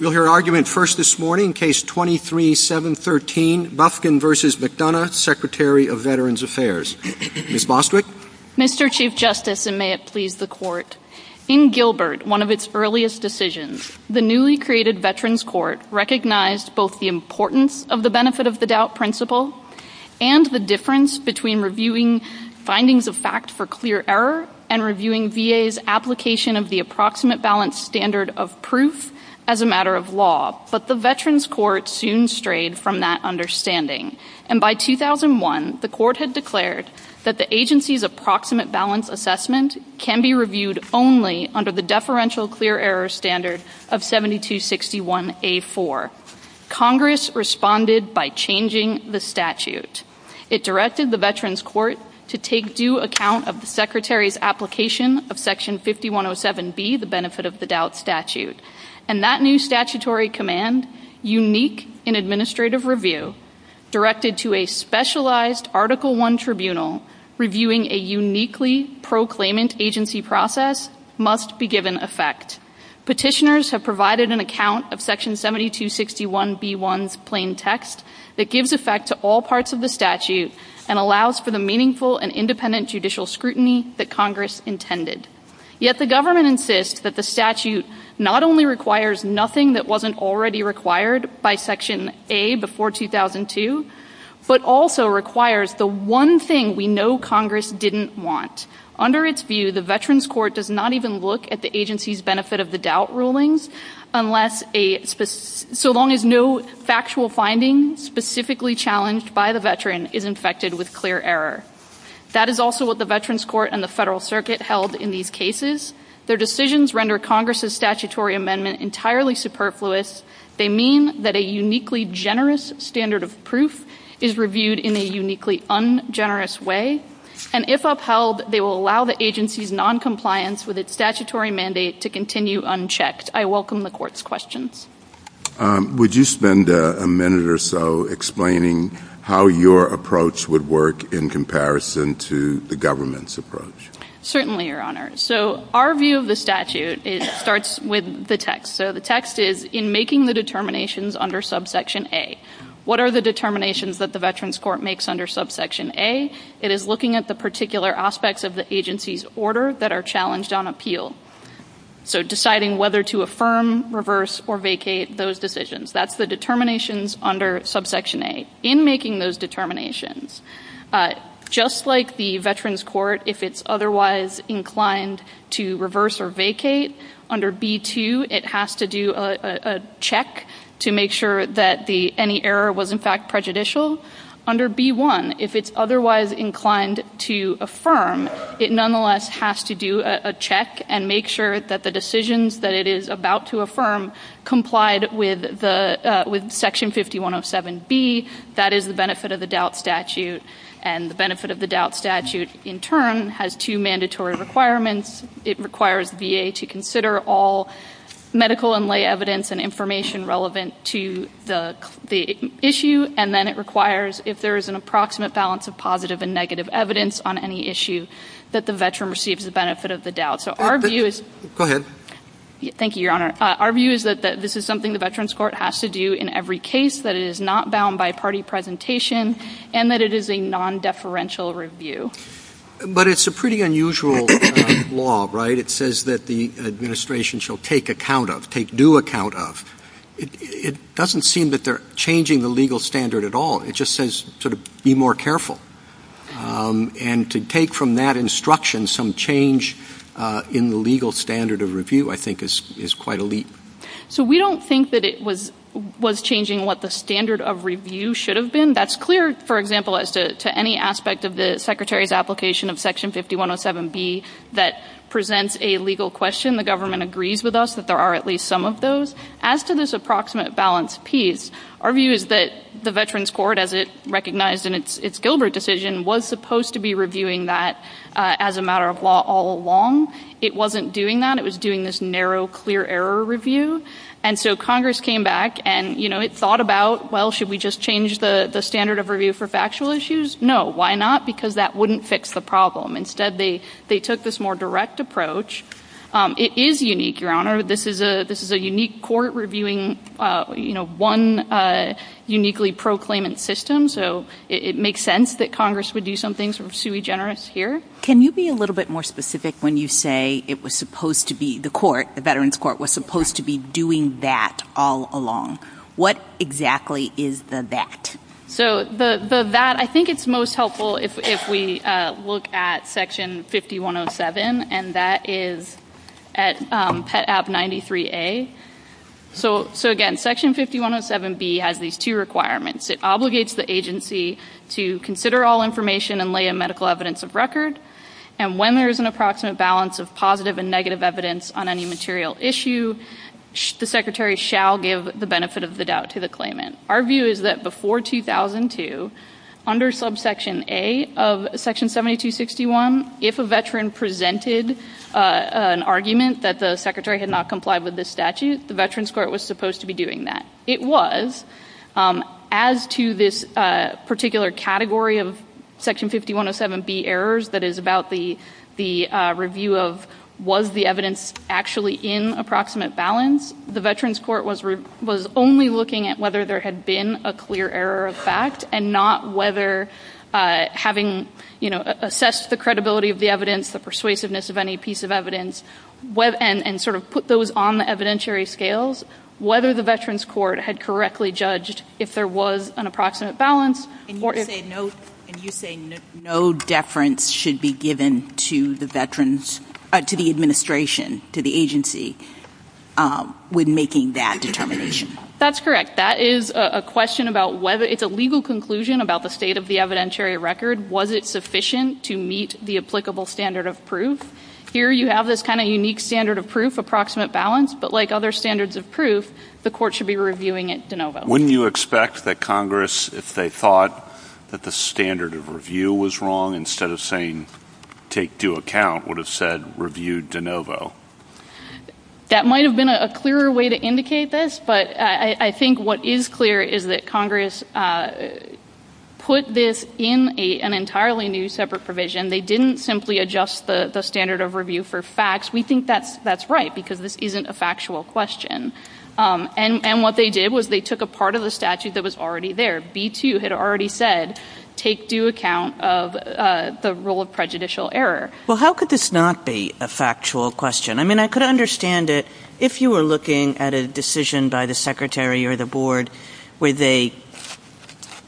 Mr. Chief Justice, and may it please the Court, in Gilbert, one of its earliest decisions, the newly created Veterans Court recognized both the importance of the Benefit of the Doubt Principle and the difference between reviewing findings of fact for clear error and reviewing VA's application of the Approximate Balance Standard of Proof as a matter of fact. It was a matter of law, but the Veterans Court soon strayed from that understanding, and by 2001, the Court had declared that the agency's Approximate Balance Assessment can be reviewed only under the Deferential Clear Error Standard of 7261A.4. Congress responded by changing the statute. It directed the Veterans Court to take due account of the Secretary's application of Section 5107B, the Benefit of the Doubt Statute, and that new statutory command, unique in administrative review, directed to a specialized Article I Tribunal, reviewing a uniquely proclaimant agency process, must be given effect. Petitioners have provided an account of Section 7261B1's plain text that gives effect to all parts of the statute and allows for the meaningful and independent judicial scrutiny that Congress intended. Yet the government insists that the statute not only requires nothing that wasn't already required by Section A before 2002, but also requires the one thing we know Congress didn't want. Under its view, the Veterans Court does not even look at the agency's Benefit of the Doubt rulings, so long as no factual finding specifically challenged by the veteran is infected with clear error. That is also what the Veterans Court and the Federal Circuit held in these cases. Their decisions render Congress's statutory amendment entirely superfluous. They mean that a uniquely generous standard of proof is reviewed in a uniquely ungenerous way. And if upheld, they will allow the agency's noncompliance with its statutory mandate to continue unchecked. I welcome the Court's questions. Would you spend a minute or so explaining how your approach would work in comparison to the government's approach? Certainly, Your Honor. So our view of the statute starts with the text. So the text is, in making the determinations under subsection A, what are the determinations that the Veterans Court makes under subsection A? It is looking at the particular aspects of the agency's order that are challenged on appeal. So deciding whether to affirm, reverse, or vacate those decisions. That's the determinations under subsection A. In making those determinations, just like the Veterans Court, if it's otherwise inclined to reverse or vacate, under B-2, it has to do a check to make sure that any error was in fact prejudicial. Under B-1, if it's otherwise inclined to affirm, it nonetheless has to do a check and make sure that the decisions that it is about to affirm complied with section 5107B. That is the benefit of the doubt statute. And the benefit of the doubt statute, in turn, has two mandatory requirements. It requires VA to consider all medical and lay evidence and information relevant to the issue. And then it requires, if there is an approximate balance of positive and negative evidence on any issue, that the Veteran receives the benefit of the doubt. So our view is... Go ahead. Thank you, Your Honor. Our view is that this is something the Veterans Court has to do in every case, that it is not bound by party presentation, and that it is a non-deferential review. But it's a pretty unusual law, right? It says that the administration shall take account of, take due account of. It doesn't seem that they're changing the legal standard at all. It just says, sort of, be more careful. And to take from that instruction some change in the legal standard of review, I think, is quite a leap. So we don't think that it was changing what the standard of review should have been. That's clear, for example, as to any aspect of the Secretary's application of section 5107B that presents a legal question. The government agrees with us that there are at least some of those. As to this approximate balance piece, our view is that the Veterans Court, as it recognized in its Gilbert decision, was supposed to be reviewing that as a matter of law all along. It wasn't doing that. It was doing this narrow, clear error review. And so Congress came back and, you know, it thought about, well, should we just change the standard of review for factual issues? No. Why not? Because that wouldn't fix the problem. Instead, they took this more direct approach. It is unique, Your Honor. This is a unique court reviewing, you know, one uniquely proclaimant system. So it makes sense that Congress would do something sort of sui generis here. Can you be a little bit more specific when you say it was supposed to be the court, the Veterans Court, was supposed to be doing that all along? What exactly is the that? So the that, I think it's most helpful if we look at Section 5107, and that is at AB 93A. So, again, Section 5107B has these two requirements. It obligates the agency to consider all information and lay a medical evidence of record, and when there is an approximate balance of positive and negative evidence on any material issue, the Secretary shall give the benefit of the doubt to the claimant. Our view is that before 2002, under subsection A of Section 7261, if a veteran presented an argument that the Secretary had not complied with this statute, the Veterans Court was supposed to be doing that. It was. As to this particular category of Section 5107B errors that is about the review of was the evidence actually in approximate balance, the Veterans Court was only looking at whether there had been a clear error of fact and not whether having assessed the credibility of the evidence, the persuasiveness of any piece of evidence, and sort of put those on the evidentiary scales, whether the Veterans Court had correctly judged if there was an approximate balance. And you say no deference should be given to the Veterans, to the administration, to the agency when making that determination. That's correct. That is a question about whether it's a legal conclusion about the state of the evidentiary record. Was it sufficient to meet the applicable standard of proof? Here you have this kind of unique standard of proof, approximate balance, but like other standards of proof, the court should be reviewing it de novo. Wouldn't you expect that Congress, if they thought that the standard of review was wrong, instead of saying take due account, would have said review de novo? That might have been a clearer way to indicate this, but I think what is clear is that Congress put this in an entirely new separate provision. They didn't simply adjust the standard of review for facts. We think that's right because this isn't a factual question. And what they did was they took a part of the statute that was already there. B-2 had already said take due account of the rule of prejudicial error. Well, how could this not be a factual question? I mean, I could understand it if you were looking at a decision by the secretary or the board where they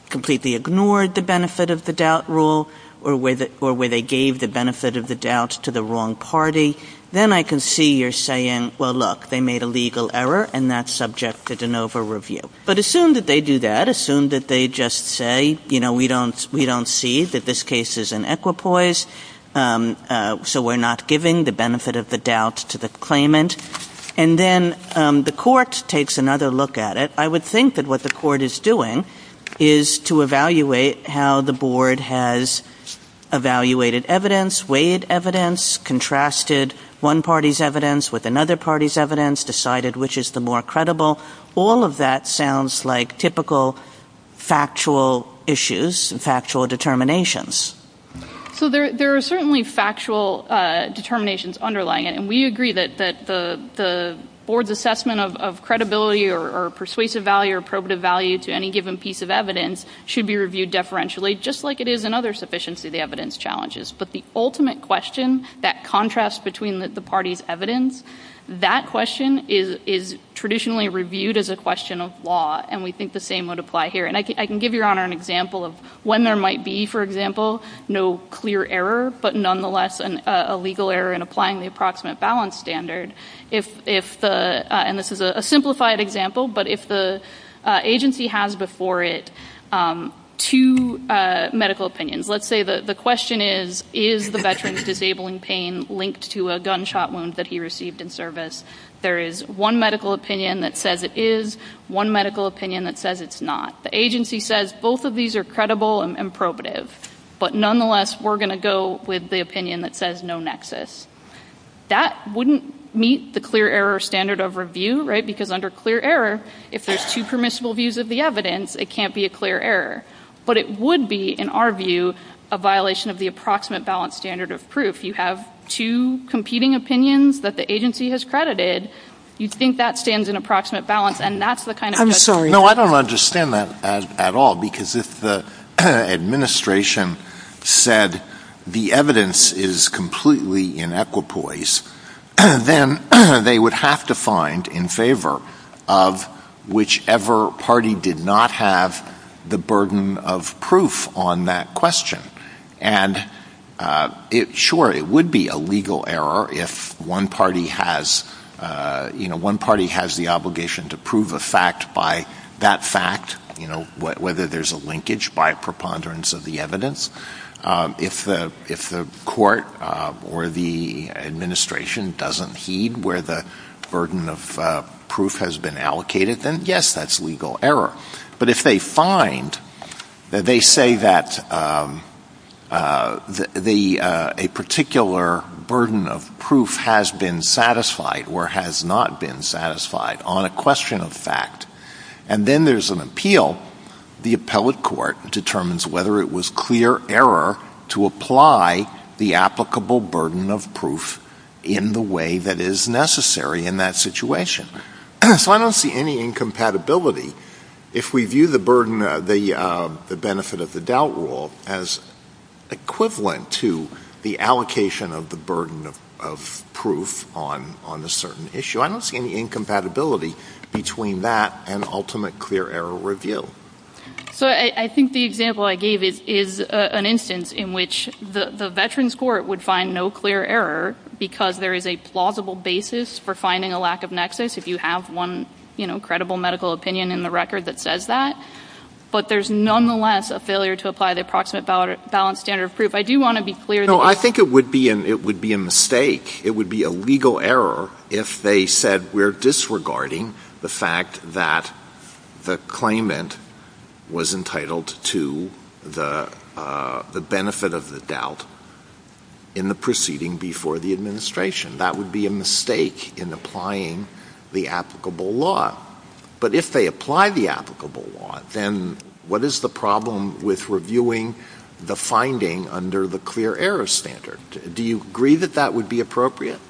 completely ignored the benefit of the doubt rule or where they gave the benefit of the doubt to the wrong party. Then I can see you're saying, well, look, they made a legal error and that's subject to de novo review. But assume that they do that. Assume that they just say, you know, we don't see that this case is an equipoise, so we're not giving the benefit of the doubt to the claimant. And then the court takes another look at it. I would think that what the court is doing is to evaluate how the board has evaluated evidence, weighed evidence, contrasted one party's evidence with another party's evidence, decided which is the more credible. All of that sounds like typical factual issues and factual determinations. Well, there are certainly factual determinations underlying it. And we agree that the board's assessment of credibility or persuasive value or probative value to any given piece of evidence should be reviewed deferentially just like it is in other sufficiency of the evidence challenges. But the ultimate question, that contrast between the parties' evidence, that question is traditionally reviewed as a question of law, and we think the same would apply here. And I can give Your Honor an example of when there might be, for example, no clear error, but nonetheless a legal error in applying the approximate balance standard. And this is a simplified example, but if the agency has before it two medical opinions, let's say the question is, is the veteran's disabling pain linked to a gunshot wound that he received in service? There is one medical opinion that says it is, one medical opinion that says it's not. The agency says both of these are credible and probative, but nonetheless we're going to go with the opinion that says no nexus. That wouldn't meet the clear error standard of review, right, because under clear error, if there's two permissible views of the evidence, it can't be a clear error. But it would be, in our view, a violation of the approximate balance standard of proof. You have two competing opinions that the agency has credited. You think that stands in approximate balance, and that's the kind of question. I'm sorry. No, I don't understand that at all, because if the administration said the evidence is completely in equipoise, then they would have to find in favor of whichever party did not have the burden of proof on that question. And sure, it would be a legal error if one party has the obligation to prove a fact by that fact, whether there's a linkage by preponderance of the evidence. If the court or the administration doesn't heed where the burden of proof has been allocated, then yes, that's legal error. But if they find that they say that a particular burden of proof has been satisfied or has not been satisfied on a question of fact, and then there's an appeal, the appellate court determines whether it was clear error to apply the applicable burden of proof in the way that is necessary in that situation. So I don't see any incompatibility. If we view the benefit of the doubt rule as equivalent to the allocation of the burden of proof on a certain issue, I don't see any incompatibility between that and ultimate clear error review. So I think the example I gave is an instance in which the veterans court would find no clear error because there is a plausible basis for finding a lack of nexus if you have one credible medical opinion in the record that says that. But there's nonetheless a failure to apply the approximate balance standard of proof. No, I think it would be a mistake. It would be a legal error if they said we're disregarding the fact that the claimant was entitled to the benefit of the doubt in the proceeding before the administration. That would be a mistake in applying the applicable law. But if they apply the applicable law, then what is the problem with reviewing the finding under the clear error standard? Do you agree that that would be appropriate?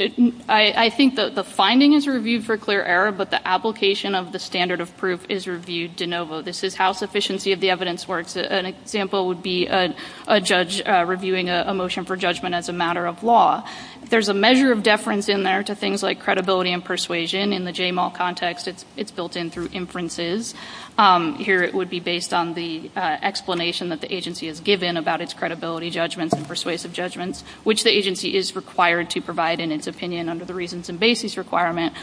I think that the finding is reviewed for clear error, but the application of the standard of proof is reviewed de novo. This is how sufficiency of the evidence works. An example would be a judge reviewing a motion for judgment as a matter of law. There's a measure of deference in there to things like credibility and persuasion. In the JMAL context, it's built in through inferences. Here it would be based on the explanation that the agency has given about its credibility judgments and persuasive judgments, which the agency is required to provide in its opinion under the reasons and basis requirement.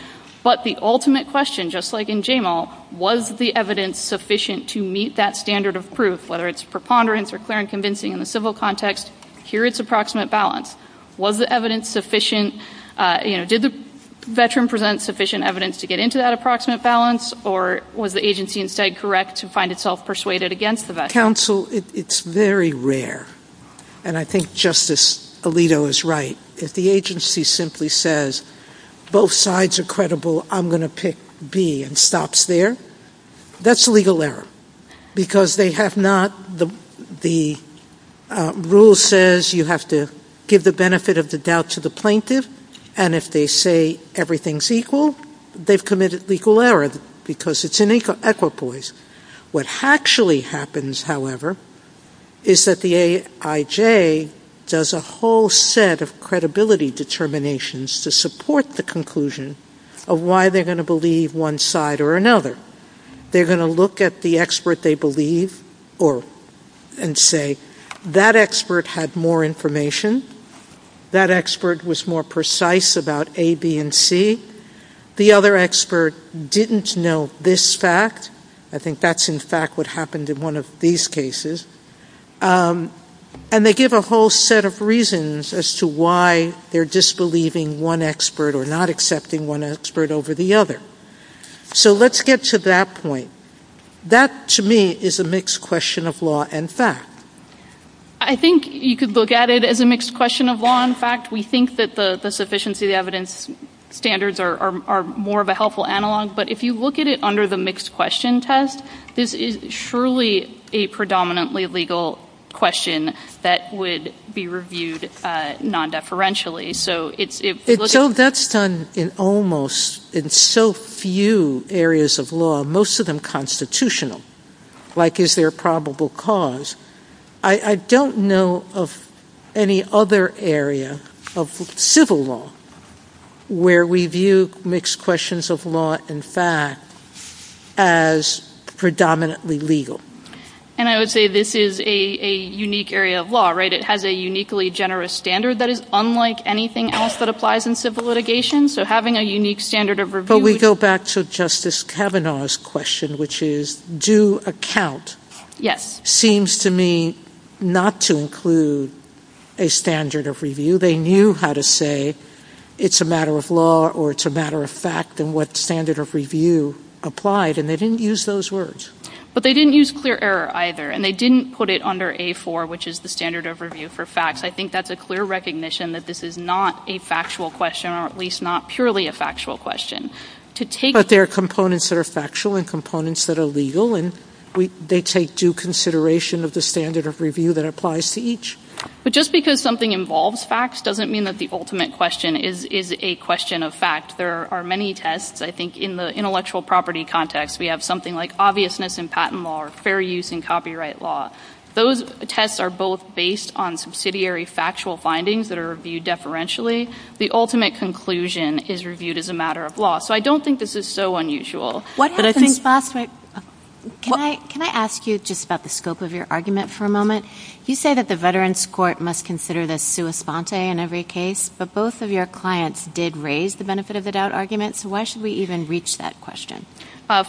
But the ultimate question, just like in JMAL, was the evidence sufficient to meet that standard of proof, whether it's preponderance or clear and convincing in the civil context? Here it's approximate balance. Was the evidence sufficient? Did the veteran present sufficient evidence to get into that approximate balance, or was the agency instead correct to find itself persuaded against the veteran? Counsel, it's very rare, and I think Justice Alito is right. If the agency simply says both sides are credible, I'm going to pick B and stops there, that's a legal error. Because the rule says you have to give the benefit of the doubt to the plaintiff, and if they say everything's equal, they've committed legal error because it's an equipoise. What actually happens, however, is that the AIJ does a whole set of credibility determinations to support the conclusion of why they're going to believe one side or another. They're going to look at the expert they believe and say, that expert had more information. That expert was more precise about A, B, and C. The other expert didn't know this fact. I think that's, in fact, what happened in one of these cases. And they give a whole set of reasons as to why they're disbelieving one expert or not accepting one expert over the other. So let's get to that point. That, to me, is a mixed question of law and fact. I think you could look at it as a mixed question of law and fact. We think that the sufficiency of evidence standards are more of a helpful analog, but if you look at it under the mixed question test, this is surely a predominantly legal question that would be reviewed non-deferentially. So that's done in almost, in so few areas of law, most of them constitutional. Like, is there a probable cause? I don't know of any other area of civil law where we view mixed questions of law and fact as predominantly legal. And I would say this is a unique area of law, right? It has a uniquely generous standard that is unlike anything else that applies in civil litigation. So having a unique standard of review... But we go back to Justice Kavanaugh's question, which is, due account seems to me not to include a standard of review. They knew how to say it's a matter of law or it's a matter of fact, and what standard of review applied, and they didn't use those words. But they didn't use clear error either, and they didn't put it under A4, which is the standard of review for facts. I think that's a clear recognition that this is not a factual question, or at least not purely a factual question. But there are components that are factual and components that are legal, and they take due consideration of the standard of review that applies to each. But just because something involves facts doesn't mean that the ultimate question is a question of fact. There are many tests, I think, in the intellectual property context. We have something like obviousness in patent law or fair use in copyright law. Those tests are both based on subsidiary factual findings that are reviewed deferentially. The ultimate conclusion is reviewed as a matter of law. So I don't think this is so unusual. Can I ask you just about the scope of your argument for a moment? You say that the Veterans Court must consider the sua sponte in every case, but both of your clients did raise the benefit of the doubt argument, so why should we even reach that question?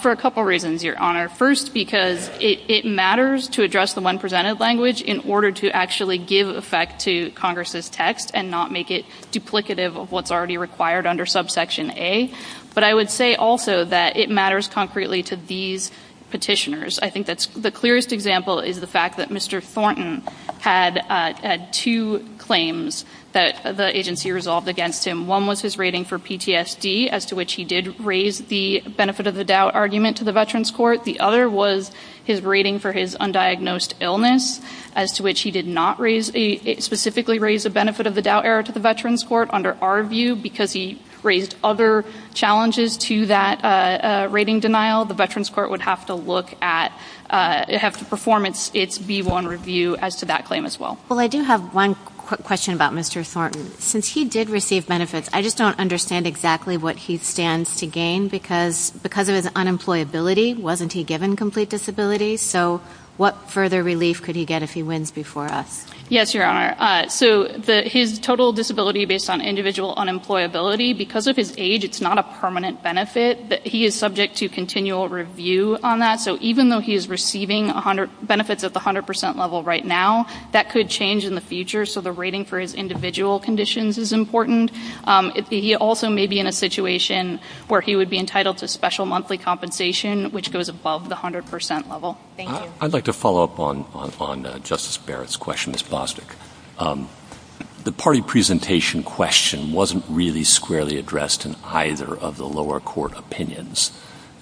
For a couple reasons, Your Honor. First, because it matters to address the one presented language in order to actually give effect to Congress' text and not make it duplicative of what's already required under subsection A. But I would say also that it matters concretely to these petitioners. I think the clearest example is the fact that Mr. Thornton had two claims that the agency resolved against him. One was his rating for PTSD, as to which he did raise the benefit of the doubt argument to the Veterans Court. The other was his rating for his undiagnosed illness, as to which he did not specifically raise the benefit of the doubt error to the Veterans Court under our view. Because he raised other challenges to that rating denial, the Veterans Court would have to look at, have to perform its B-1 review as to that claim as well. Well, I do have one quick question about Mr. Thornton. Since he did receive benefits, I just don't understand exactly what he stands to gain. Because of his unemployability, wasn't he given complete disability? So what further relief could he get if he wins before us? Yes, Your Honor. So his total disability based on individual unemployability, because of his age, it's not a permanent benefit. He is subject to continual review on that. So even though he is receiving benefits at the 100 percent level right now, that could change in the future. So the rating for his individual conditions is important. He also may be in a situation where he would be entitled to special monthly compensation, which goes above the 100 percent level. Thank you. I'd like to follow up on Justice Barrett's question, Ms. Bostick. The party presentation question wasn't really squarely addressed in either of the lower court opinions.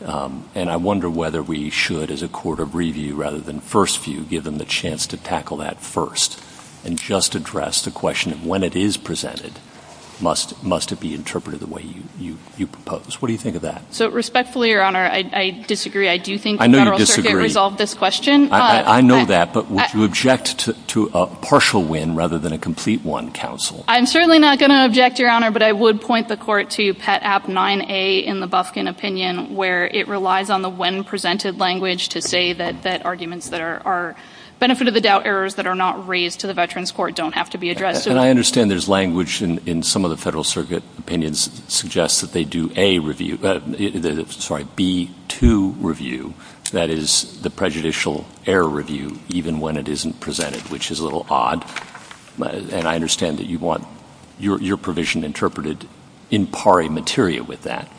And I wonder whether we should, as a court of review, rather than first view, give him the chance to tackle that first. And just address the question of when it is presented, must it be interpreted the way you propose? What do you think of that? So respectfully, Your Honor, I disagree. I do think the Federal Circuit resolved this question. I know that. But would you object to a partial win rather than a complete win, counsel? I'm certainly not going to object, Your Honor. But I would point the court to Pet App 9A in the Bufkin opinion, where it relies on the win presented language to say that And I understand there's language in some of the Federal Circuit opinions suggest that they do a review, sorry, B2 review. That is, the prejudicial error review, even when it isn't presented, which is a little odd. And I understand that you want your provision interpreted in pari materia with that.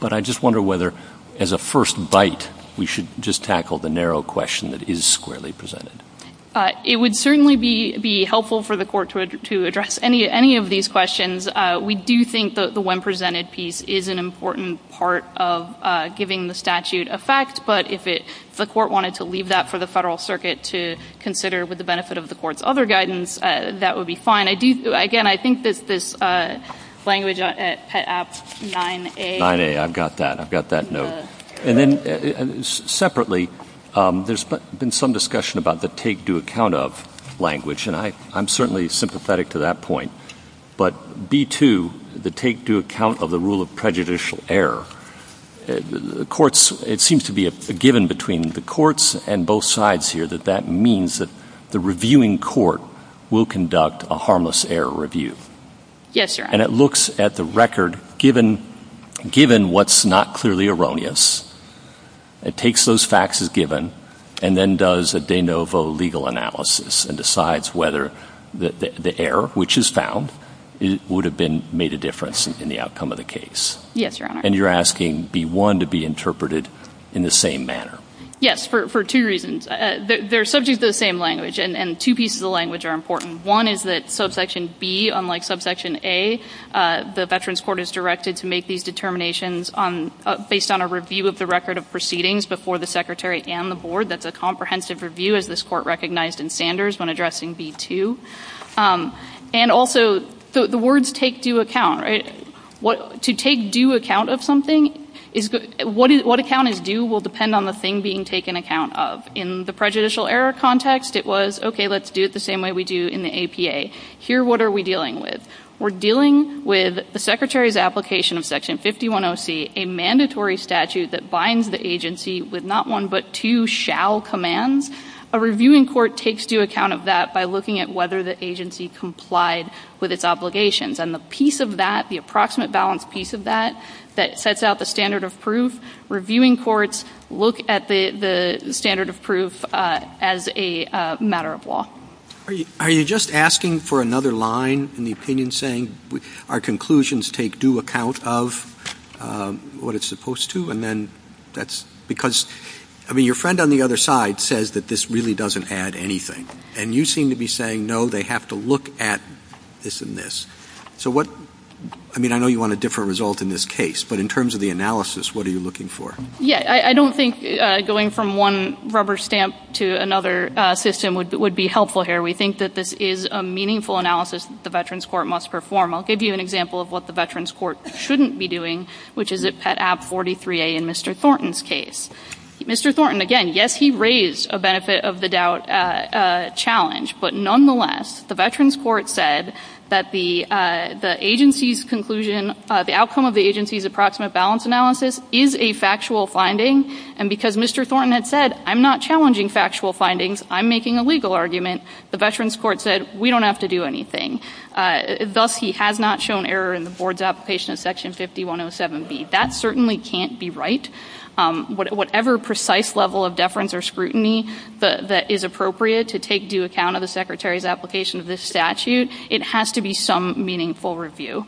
But I just wonder whether, as a first bite, we should just tackle the narrow question that is squarely presented. It would certainly be helpful for the court to address any of these questions. We do think that the win presented piece is an important part of giving the statute effect. But if the court wanted to leave that for the Federal Circuit to consider with the benefit of the court's other guidance, that would be fine. Again, I think that this language at Pet App 9A. 9A, I've got that. I've got that note. Separately, there's been some discussion about the take-do-account-of language, and I'm certainly sympathetic to that point. But B2, the take-do-account-of-the-rule-of-prejudicial-error, it seems to be a given between the courts and both sides here that that means that the reviewing court will conduct a harmless error review. Yes, Your Honor. And it looks at the record, given what's not clearly erroneous. It takes those facts as given and then does a de novo legal analysis and decides whether the error, which is found, would have made a difference in the outcome of the case. Yes, Your Honor. And you're asking B1 to be interpreted in the same manner. Yes, for two reasons. They're subject to the same language, and two pieces of language are important. One is that Subsection B, unlike Subsection A, the Veterans Court is directed to make these determinations based on a review of the record of proceedings before the secretary and the board. That's a comprehensive review, as this court recognized in Sanders when addressing B2. And also, the words take-do-account, right? To take do-account of something, what account is due will depend on the thing being taken account of. In the prejudicial error context, it was, okay, let's do it the same way we do in the APA. Here, what are we dealing with? We're dealing with the secretary's application of Section 510C, a mandatory statute that binds the agency with not one but two shall commands. A reviewing court takes do-account of that by looking at whether the agency complied with its obligations. And the piece of that, the approximate balance piece of that, that sets out the standard of proof, reviewing courts look at the standard of proof as a matter of law. Are you just asking for another line in the opinion, saying our conclusions take do-account of what it's supposed to? And then that's because, I mean, your friend on the other side says that this really doesn't add anything. And you seem to be saying, no, they have to look at this and this. So what, I mean, I know you want a different result in this case, but in terms of the analysis, what are you looking for? Yeah, I don't think going from one rubber stamp to another system would be helpful here. We think that this is a meaningful analysis that the Veterans Court must perform. I'll give you an example of what the Veterans Court shouldn't be doing, which is at Pet App 43A in Mr. Thornton's case. Mr. Thornton, again, yes, he raised a benefit of the doubt challenge. But nonetheless, the Veterans Court said that the agency's conclusion, the outcome of the agency's approximate balance analysis is a factual finding. And because Mr. Thornton had said, I'm not challenging factual findings. I'm making a legal argument. The Veterans Court said, we don't have to do anything. Thus, he has not shown error in the board's application of Section 5107B. That certainly can't be right. Whatever precise level of deference or scrutiny that is appropriate to take into account of the Secretary's application of this statute, it has to be some meaningful review.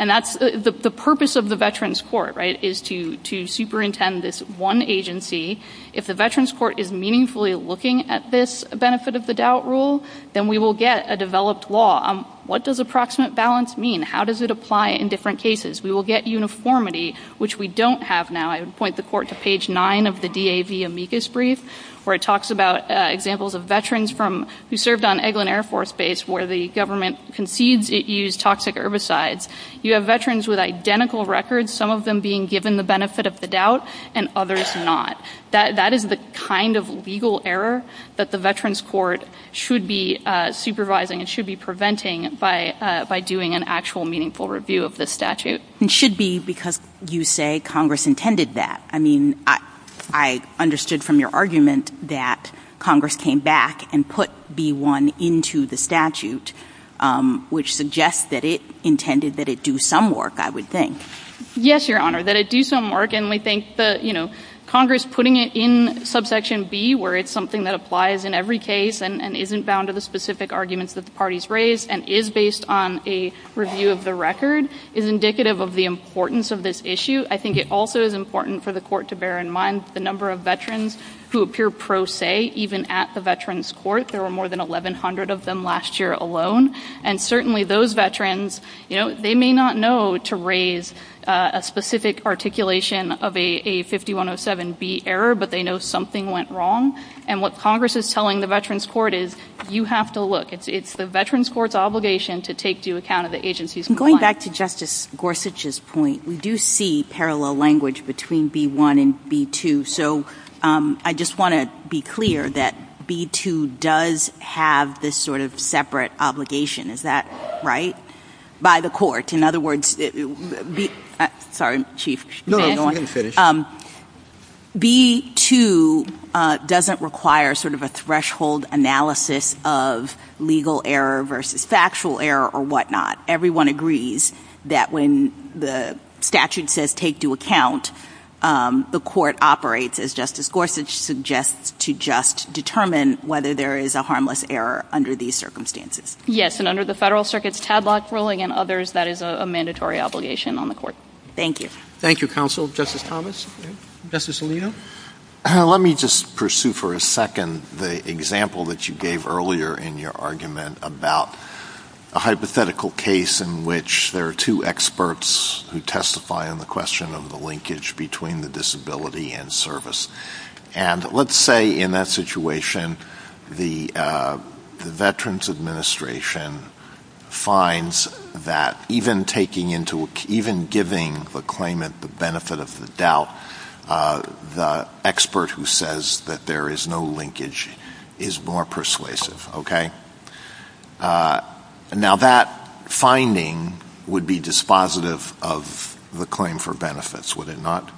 And that's the purpose of the Veterans Court, right, is to superintend this one agency. If the Veterans Court is meaningfully looking at this benefit of the doubt rule, then we will get a developed law. What does approximate balance mean? How does it apply in different cases? We will get uniformity, which we don't have now. I would point the court to page 9 of the DAV amicus brief, where it talks about examples of veterans who served on Eglin Air Force Base where the government concedes it used toxic herbicides. You have veterans with identical records, some of them being given the benefit of the doubt and others not. That is the kind of legal error that the Veterans Court should be supervising and should be preventing by doing an actual meaningful review of the statute. It should be because you say Congress intended that. I mean, I understood from your argument that Congress came back and put B-1 into the statute, which suggests that it intended that it do some work, I would think. Yes, Your Honor, that it do some work. Congress putting it in subsection B, where it's something that applies in every case and isn't bound to the specific arguments that the parties raised and is based on a review of the record, is indicative of the importance of this issue. I think it also is important for the court to bear in mind the number of veterans who appear pro se, even at the Veterans Court. There were more than 1,100 of them last year alone. And certainly those veterans, they may not know to raise a specific articulation of a 5107B error, but they know something went wrong. And what Congress is telling the Veterans Court is, you have to look. It's the Veterans Court's obligation to take due account of the agency's compliance. Back to Justice Gorsuch's point, we do see parallel language between B-1 and B-2. So I just want to be clear that B-2 does have this sort of separate obligation. Is that right? By the court. In other words, B-2 doesn't require sort of a threshold analysis of legal error versus factual error or whatnot. Everyone agrees that when the statute says take due account, the court operates, as Justice Gorsuch suggests, to just determine whether there is a harmless error under these circumstances. Yes, and under the Federal Circuit's Tadlock ruling and others, that is a mandatory obligation on the court. Thank you. Thank you, Counsel. Justice Thomas? Justice Alito? Let me just pursue for a second the example that you gave earlier in your argument about a hypothetical case in which there are two experts who testify on the question of the linkage between the disability and service. And let's say, in that situation, the Veterans Administration finds that even giving the claimant the benefit of the doubt, the expert who says that there is no linkage is more persuasive, okay? Now, that finding would be dispositive of the claim for benefits, would it not?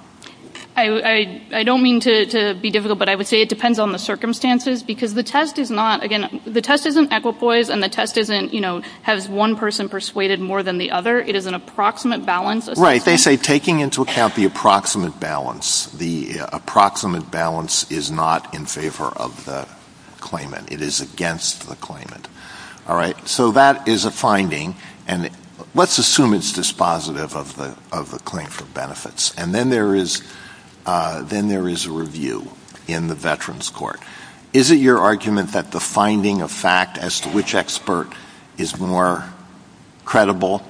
I don't mean to be difficult, but I would say it depends on the circumstances because the test is not, again, the test isn't equipoise and the test isn't, you know, has one person persuaded more than the other. It is an approximate balance. Right. They say taking into account the approximate balance, the approximate balance is not in favor of the claimant. It is against the claimant. All right? So that is a finding. And let's assume it's dispositive of the claim for benefits. And then there is a review in the Veterans Court. Is it your argument that the finding of fact as to which expert is more credible,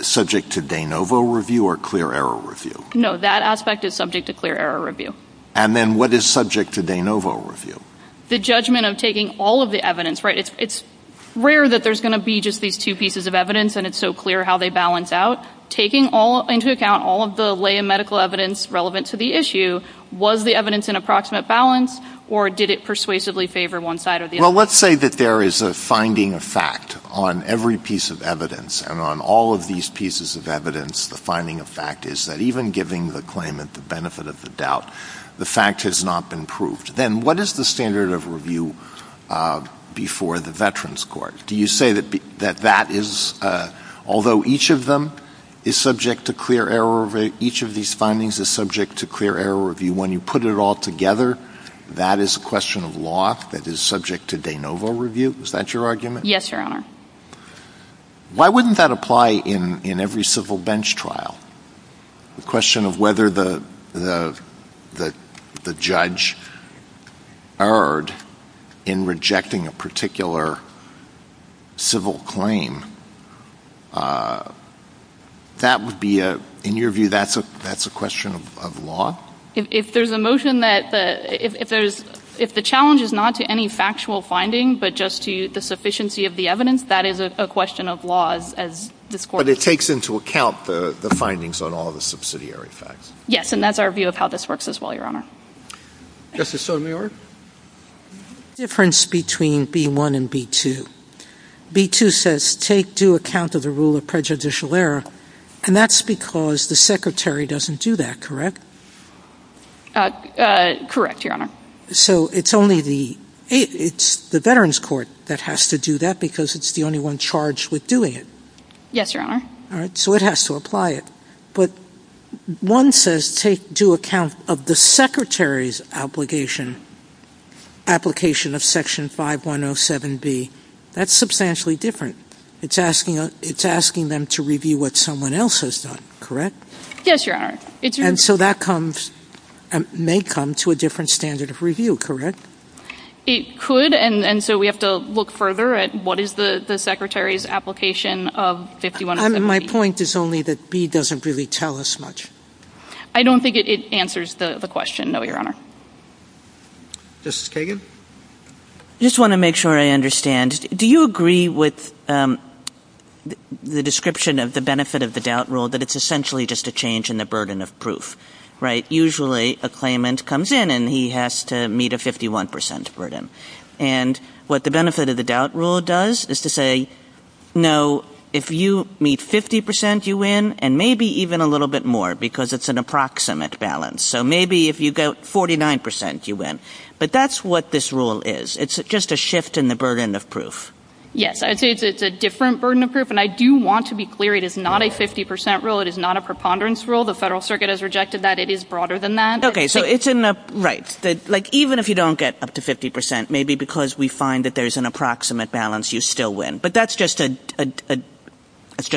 subject to de novo review or clear error review? No, that aspect is subject to clear error review. And then what is subject to de novo review? The judgment of taking all of the evidence, right? It's rare that there's going to be just these two pieces of evidence and it's so clear how they balance out. Taking into account all of the lay and medical evidence relevant to the issue, was the evidence in approximate balance or did it persuasively favor one side or the other? Well, let's say that there is a finding of fact on every piece of evidence. And on all of these pieces of evidence, the finding of fact is that even giving the claimant the benefit of the doubt, the fact has not been proved. Then what is the standard of review before the Veterans Court? Although each of these findings is subject to clear error review, when you put it all together, that is a question of law that is subject to de novo review. Is that your argument? Yes, Your Honor. Why wouldn't that apply in every civil bench trial? The question of whether the judge erred in rejecting a particular civil claim, in your view, that's a question of law? If the challenge is not to any factual finding but just to the sufficiency of the evidence, that is a question of law. But it takes into account the findings on all of the subsidiary facts? Yes, and that's our view of how this works as well, Your Honor. Justice Sotomayor? The difference between B-1 and B-2. B-2 says, take due account of the rule of prejudicial error, and that's because the Secretary doesn't do that, correct? Correct, Your Honor. So it's only the Veterans Court that has to do that because it's the only one charged with doing it? Yes, Your Honor. So it has to apply it. But one says, take due account of the Secretary's application of Section 5107B. That's substantially different. It's asking them to review what someone else has done, correct? Yes, Your Honor. And so that may come to a different standard of review, correct? It could, and so we have to look further at what is the Secretary's application of 5107B. My point is only that B doesn't really tell us much. I don't think it answers the question, no, Your Honor. Justice Kagan? I just want to make sure I understand. Do you agree with the description of the benefit of the doubt rule that it's essentially just a change in the burden of proof, right? Usually a claimant comes in and he has to meet a 51% burden. And what the benefit of the doubt rule does is to say, no, if you meet 50%, you win, and maybe even a little bit more because it's an approximate balance. So maybe if you go 49%, you win. But that's what this rule is. It's just a shift in the burden of proof. It's a different burden of proof, and I do want to be clear, it is not a 50% rule. It is not a preponderance rule. The Federal Circuit has rejected that. It is broader than that. Okay, so it's a – right. Like, even if you don't get up to 50%, maybe because we find that there's an approximate balance, you still win. But that's just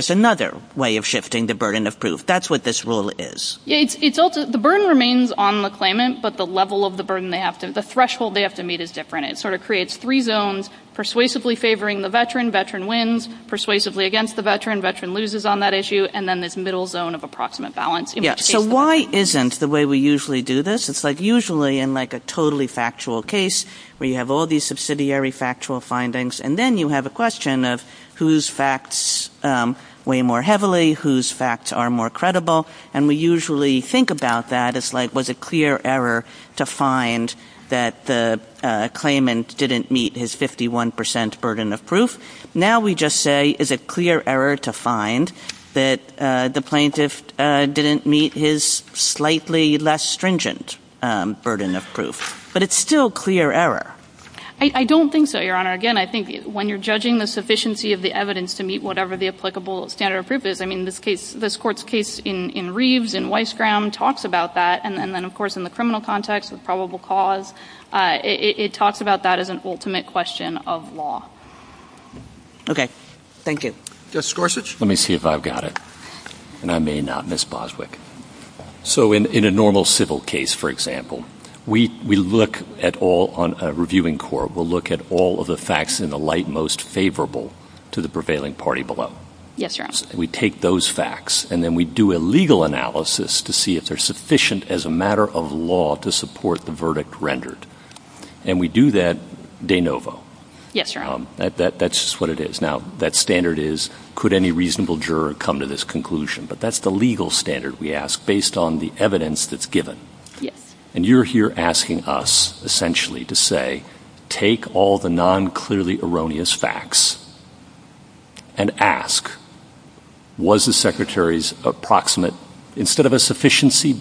another way of shifting the burden of proof. That's what this rule is. The burden remains on the claimant, but the level of the burden they have to – the threshold they have to meet is different. It sort of creates three zones, persuasively favoring the veteran. Veteran wins. Persuasively against the veteran. Veteran loses on that issue. And then this middle zone of approximate balance. So why isn't the way we usually do this? It's like usually in, like, a totally factual case where you have all these subsidiary factual findings, and then you have a question of whose facts weigh more heavily, whose facts are more credible. And we usually think about that as, like, was it clear error to find that the claimant didn't meet his 51% burden of proof? Now we just say, is it clear error to find that the plaintiff didn't meet his slightly less stringent burden of proof? But it's still clear error. I don't think so, Your Honor. Again, I think when you're judging the sufficiency of the evidence to meet whatever the applicable standard of proof is – I mean, this court's case in Reeves and Weissgram talks about that. And then, of course, in the criminal context of probable cause, it talks about that as an ultimate question of law. Okay. Thank you. Justice Gorsuch? Let me see if I've got it. And I may not, Ms. Boswick. So in a normal civil case, for example, we look at all on a reviewing court, we'll look at all of the facts in the light most favorable to the prevailing party below. Yes, Your Honor. We take those facts, and then we do a legal analysis to see if they're sufficient as a matter of law to support the verdict rendered. And we do that de novo. Yes, Your Honor. That's just what it is. Now, that standard is, could any reasonable juror come to this conclusion? But that's the legal standard we ask based on the evidence that's given. Yes. And you're here asking us, essentially, to say, take all the non-clearly erroneous facts and ask, was the Secretary's approximate, instead of a sufficiency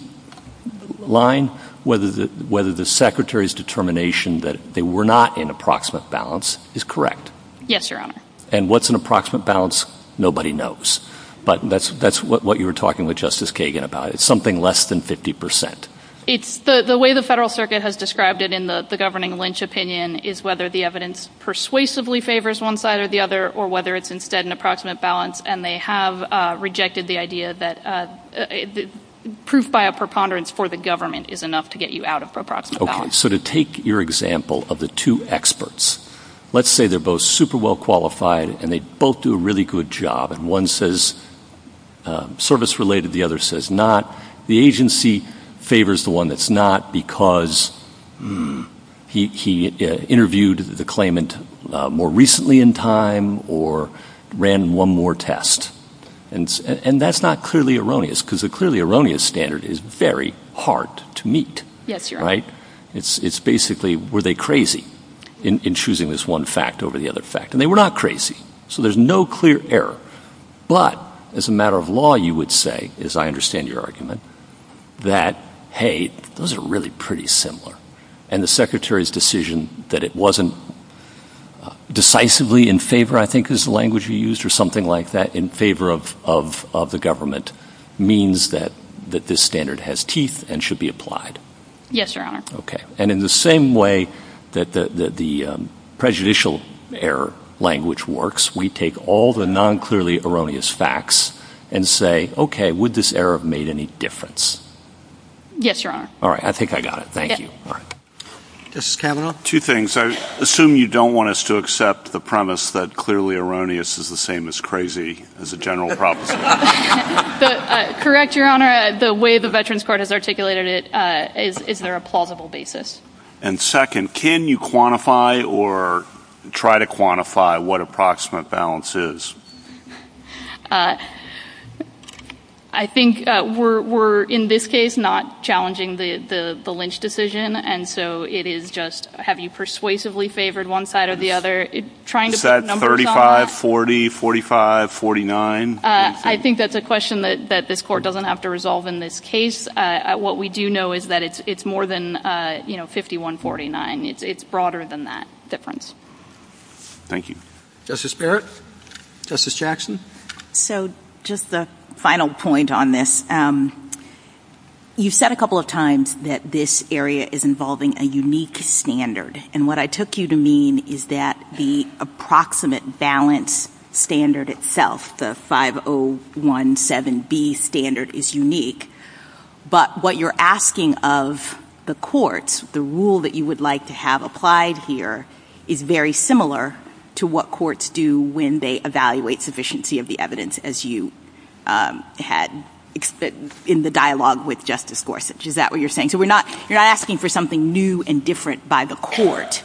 line, whether the Secretary's determination that they were not in approximate balance is correct? Yes, Your Honor. And what's an approximate balance? Nobody knows. But that's what you were talking with Justice Kagan about. It's something less than 50%. The way the Federal Circuit has described it in the governing lynch opinion is whether the evidence persuasively favors one side or the other, or whether it's instead an approximate balance. And they have rejected the idea that proof by a preponderance for the government is enough to get you out of approximate balance. Okay. So to take your example of the two experts, let's say they're both super well qualified, and they both do a really good job. And one says service-related, the other says not. The agency favors the one that's not because he interviewed the claimant more recently in time or ran one more test. And that's not clearly erroneous because a clearly erroneous standard is very hard to meet. Yes, Your Honor. Right? It's basically, were they crazy in choosing this one fact over the other fact? And they were not crazy. So there's no clear error. But as a matter of law, you would say, as I understand your argument, that, hey, those are really pretty similar. And the Secretary's decision that it wasn't decisively in favor, I think is the language you used, or something like that, in favor of the government means that this standard has teeth and should be applied. Yes, Your Honor. Okay. And in the same way that the prejudicial error language works, we take all the non-clearly erroneous facts and say, okay, would this error have made any difference? Yes, Your Honor. All right. I think I got it. Thank you. Mrs. Cavanaugh? Two things. I assume you don't want us to accept the premise that clearly erroneous is the same as crazy as a general property. Correct, Your Honor. The way the Veterans Court has articulated it, is there a plausible basis? And second, can you quantify or try to quantify what approximate balance is? I think we're, in this case, not challenging the Lynch decision. And so it is just, have you persuasively favored one side or the other? Is that 35, 40, 45, 49? I think that's a question that this Court doesn't have to resolve in this case. What we do know is that it's more than 51, 49. It's broader than that difference. Thank you. Justice Barrett? Justice Jackson? So just a final point on this. You said a couple of times that this area is involving a unique standard. And what I took you to mean is that the approximate balance standard itself, the 5017B standard, is unique. But what you're asking of the courts, the rule that you would like to have applied here, is very similar to what courts do when they evaluate sufficiency of the evidence, as you had in the dialogue with Justice Gorsuch. Is that what you're saying? So you're asking for something new and different by the court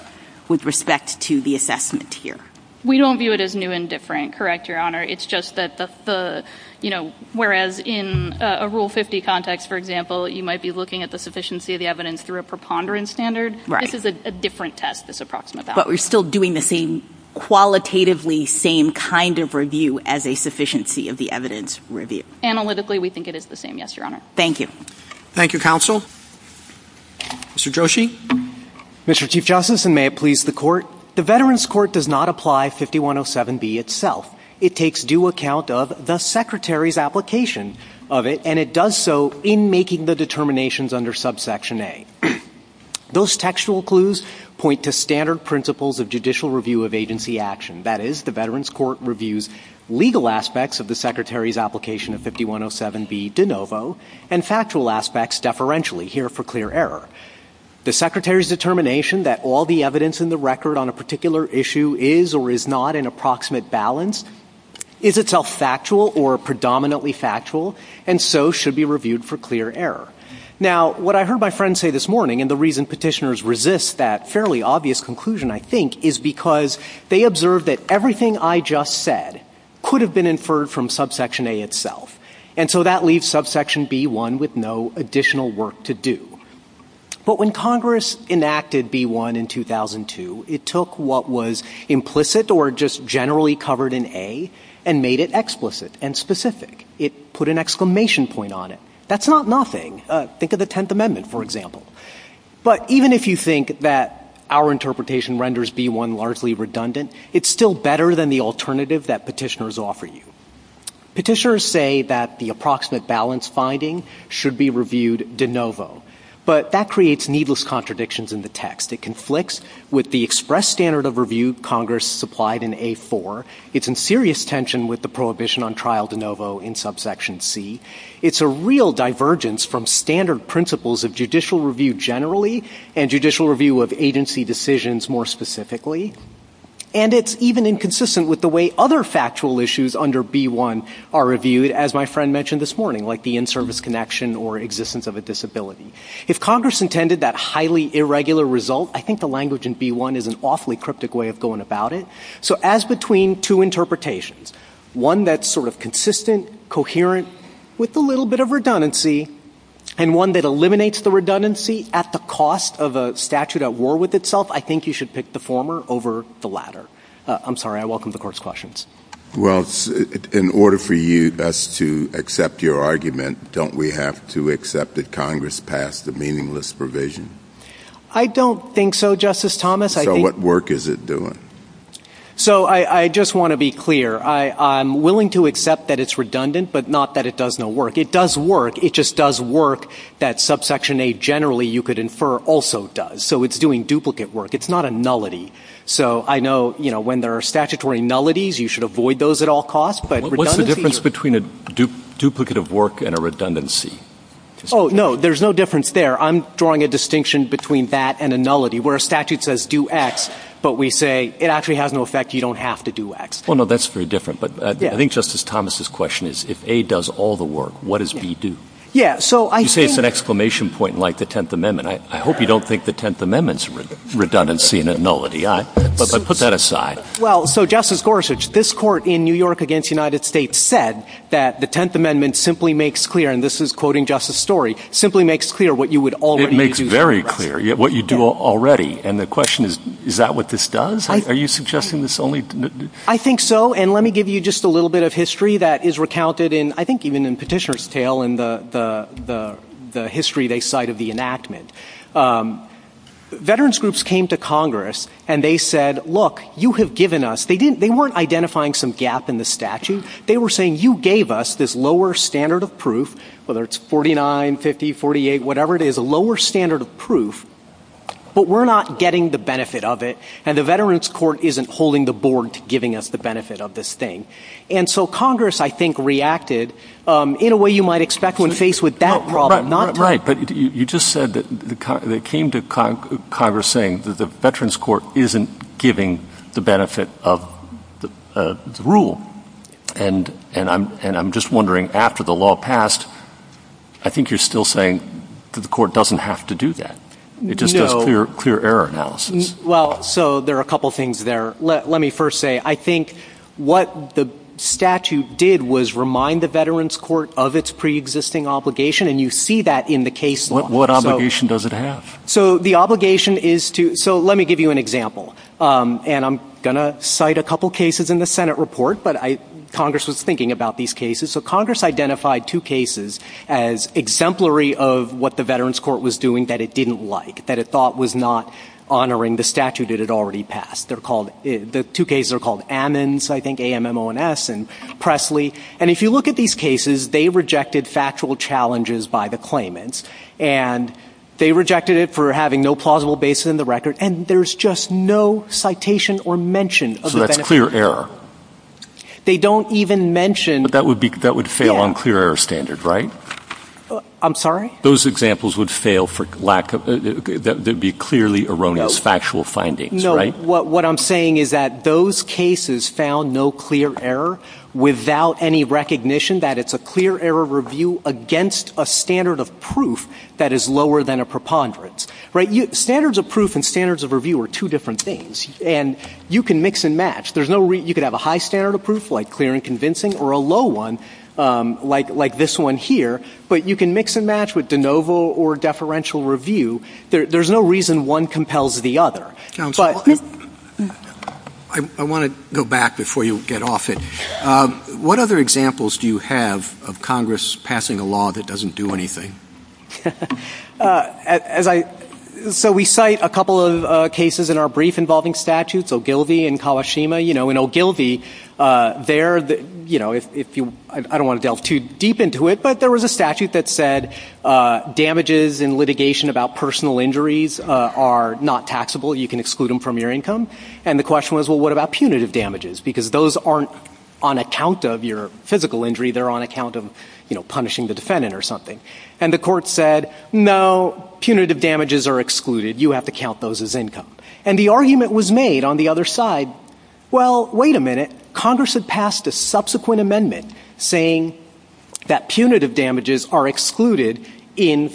with respect to the assessment here. We don't view it as new and different, correct, Your Honor. It's just that, you know, whereas in a Rule 50 context, for example, you might be looking at the sufficiency of the evidence through a preponderance standard. This is a different test, this approximate balance. But we're still doing the same, qualitatively same kind of review as a sufficiency of the evidence review. Analytically, we think it is the same, yes, Your Honor. Thank you. Thank you, Counsel. Mr. Drosche. Mr. Chief Justice, and may it please the Court, the Veterans Court does not apply 5107B itself. It takes due account of the Secretary's application of it, and it does so in making the determinations under Subsection A. Those textual clues point to standard principles of judicial review of agency action. That is, the Veterans Court reviews legal aspects of the Secretary's application of 5107B de novo and factual aspects deferentially here for clear error. The Secretary's determination that all the evidence in the record on a particular issue is or is not an approximate balance is itself factual or predominantly factual, and so should be reviewed for clear error. Now, what I heard my friends say this morning, and the reason petitioners resist that fairly obvious conclusion, I think, is because they observe that everything I just said could have been inferred from Subsection A itself. And so that leaves Subsection B-1 with no additional work to do. But when Congress enacted B-1 in 2002, it took what was implicit or just generally covered in A and made it explicit and specific. It put an exclamation point on it. That's not nothing. Think of the Tenth Amendment, for example. But even if you think that our interpretation renders B-1 largely redundant, it's still better than the alternative that petitioners offer you. Petitioners say that the approximate balance finding should be reviewed de novo, but that creates needless contradictions in the text. It conflicts with the express standard of review Congress supplied in A-4. It's in serious tension with the prohibition on trial de novo in Subsection C. It's a real divergence from standard principles of judicial review generally and judicial review of agency decisions more specifically. And it's even inconsistent with the way other factual issues under B-1 are reviewed, as my friend mentioned this morning, like the in-service connection or existence of a disability. If Congress intended that highly irregular result, I think the language in B-1 is an awfully cryptic way of going about it. So as between two interpretations, one that's sort of consistent, coherent, with a little bit of redundancy, and one that eliminates the redundancy at the cost of a statute at war with itself, I think you should pick the former over the latter. I'm sorry. I welcome the Court's questions. Well, in order for us to accept your argument, don't we have to accept that Congress passed a meaningless provision? I don't think so, Justice Thomas. So what work is it doing? So I just want to be clear. I'm willing to accept that it's redundant, but not that it does no work. It does work. It just does work that Subsection A generally you could infer also does. So it's doing duplicate work. It's not a nullity. So I know, you know, when there are statutory nullities, you should avoid those at all costs. What's the difference between a duplicate of work and a redundancy? Oh, no, there's no difference there. I'm drawing a distinction between that and a nullity where a statute says do X, but we say it actually has no effect. You don't have to do X. Well, no, that's very different, but I think Justice Thomas' question is if A does all the work, what does B do? Yeah, so I think— You say it's an exclamation point like the Tenth Amendment. I hope you don't think the Tenth Amendment is redundancy and a nullity. But put that aside. Well, so Justice Gorsuch, this court in New York against the United States said that the Tenth Amendment simply makes clear, and this is quoting Justice Story, simply makes clear what you would already do. It makes very clear what you do already. And the question is, is that what this does? Are you suggesting this only— I think so, and let me give you just a little bit of history that is recounted in, I think even in Petitioner's tale in the history they cite of the enactment. Veterans groups came to Congress, and they said, look, you have given us— they weren't identifying some gap in the statute. They were saying you gave us this lower standard of proof, whether it's 49, 50, 48, whatever it is, a lower standard of proof, but we're not getting the benefit of it, and the Veterans Court isn't holding the board to giving us the benefit of this thing. And so Congress, I think, reacted in a way you might expect when faced with that problem, not— Right, but you just said that they came to Congress saying that the Veterans Court isn't giving the benefit of the rule, and I'm just wondering, after the law passed, I think you're still saying the court doesn't have to do that. It just has clear error analysis. Well, so there are a couple things there. Let me first say, I think what the statute did was remind the Veterans Court of its preexisting obligation, and you see that in the case law. What obligation does it have? So the obligation is to—so let me give you an example, and I'm going to cite a couple cases in the Senate report, but Congress was thinking about these cases. So Congress identified two cases as exemplary of what the Veterans Court was doing that it didn't like, that it thought was not honoring the statute it had already passed. They're called—the two cases are called Ammons, I think, A-M-M-O-N-S, and Presley. And if you look at these cases, they rejected factual challenges by the claimants, and they rejected it for having no plausible basis in the record, and there's just no citation or mention of the— So that's clear error. They don't even mention— But that would fail on clear error standards, right? I'm sorry? Those examples would fail for lack of—that would be clearly erroneous factual findings, right? What I'm saying is that those cases found no clear error without any recognition that it's a clear error review against a standard of proof that is lower than a preponderance, right? Standards of proof and standards of review are two different things, and you can mix and match. There's no reason—you could have a high standard of proof, like clear and convincing, or a low one, like this one here, but you can mix and match with de novo or deferential review. There's no reason one compels the other. I want to go back before you get off it. What other examples do you have of Congress passing a law that doesn't do anything? So we cite a couple of cases in our brief involving statutes, Ogilvie and Kawashima. In Ogilvie, I don't want to delve too deep into it, but there was a statute that said damages in litigation about personal injuries are not taxable. You can exclude them from your income. And the question was, well, what about punitive damages? Because those aren't on account of your physical injury. They're on account of, you know, punishing the defendant or something. And the court said, no, punitive damages are excluded. You have to count those as income. And the argument was made on the other side, well, wait a minute. Congress had passed a subsequent amendment saying that punitive damages are excluded in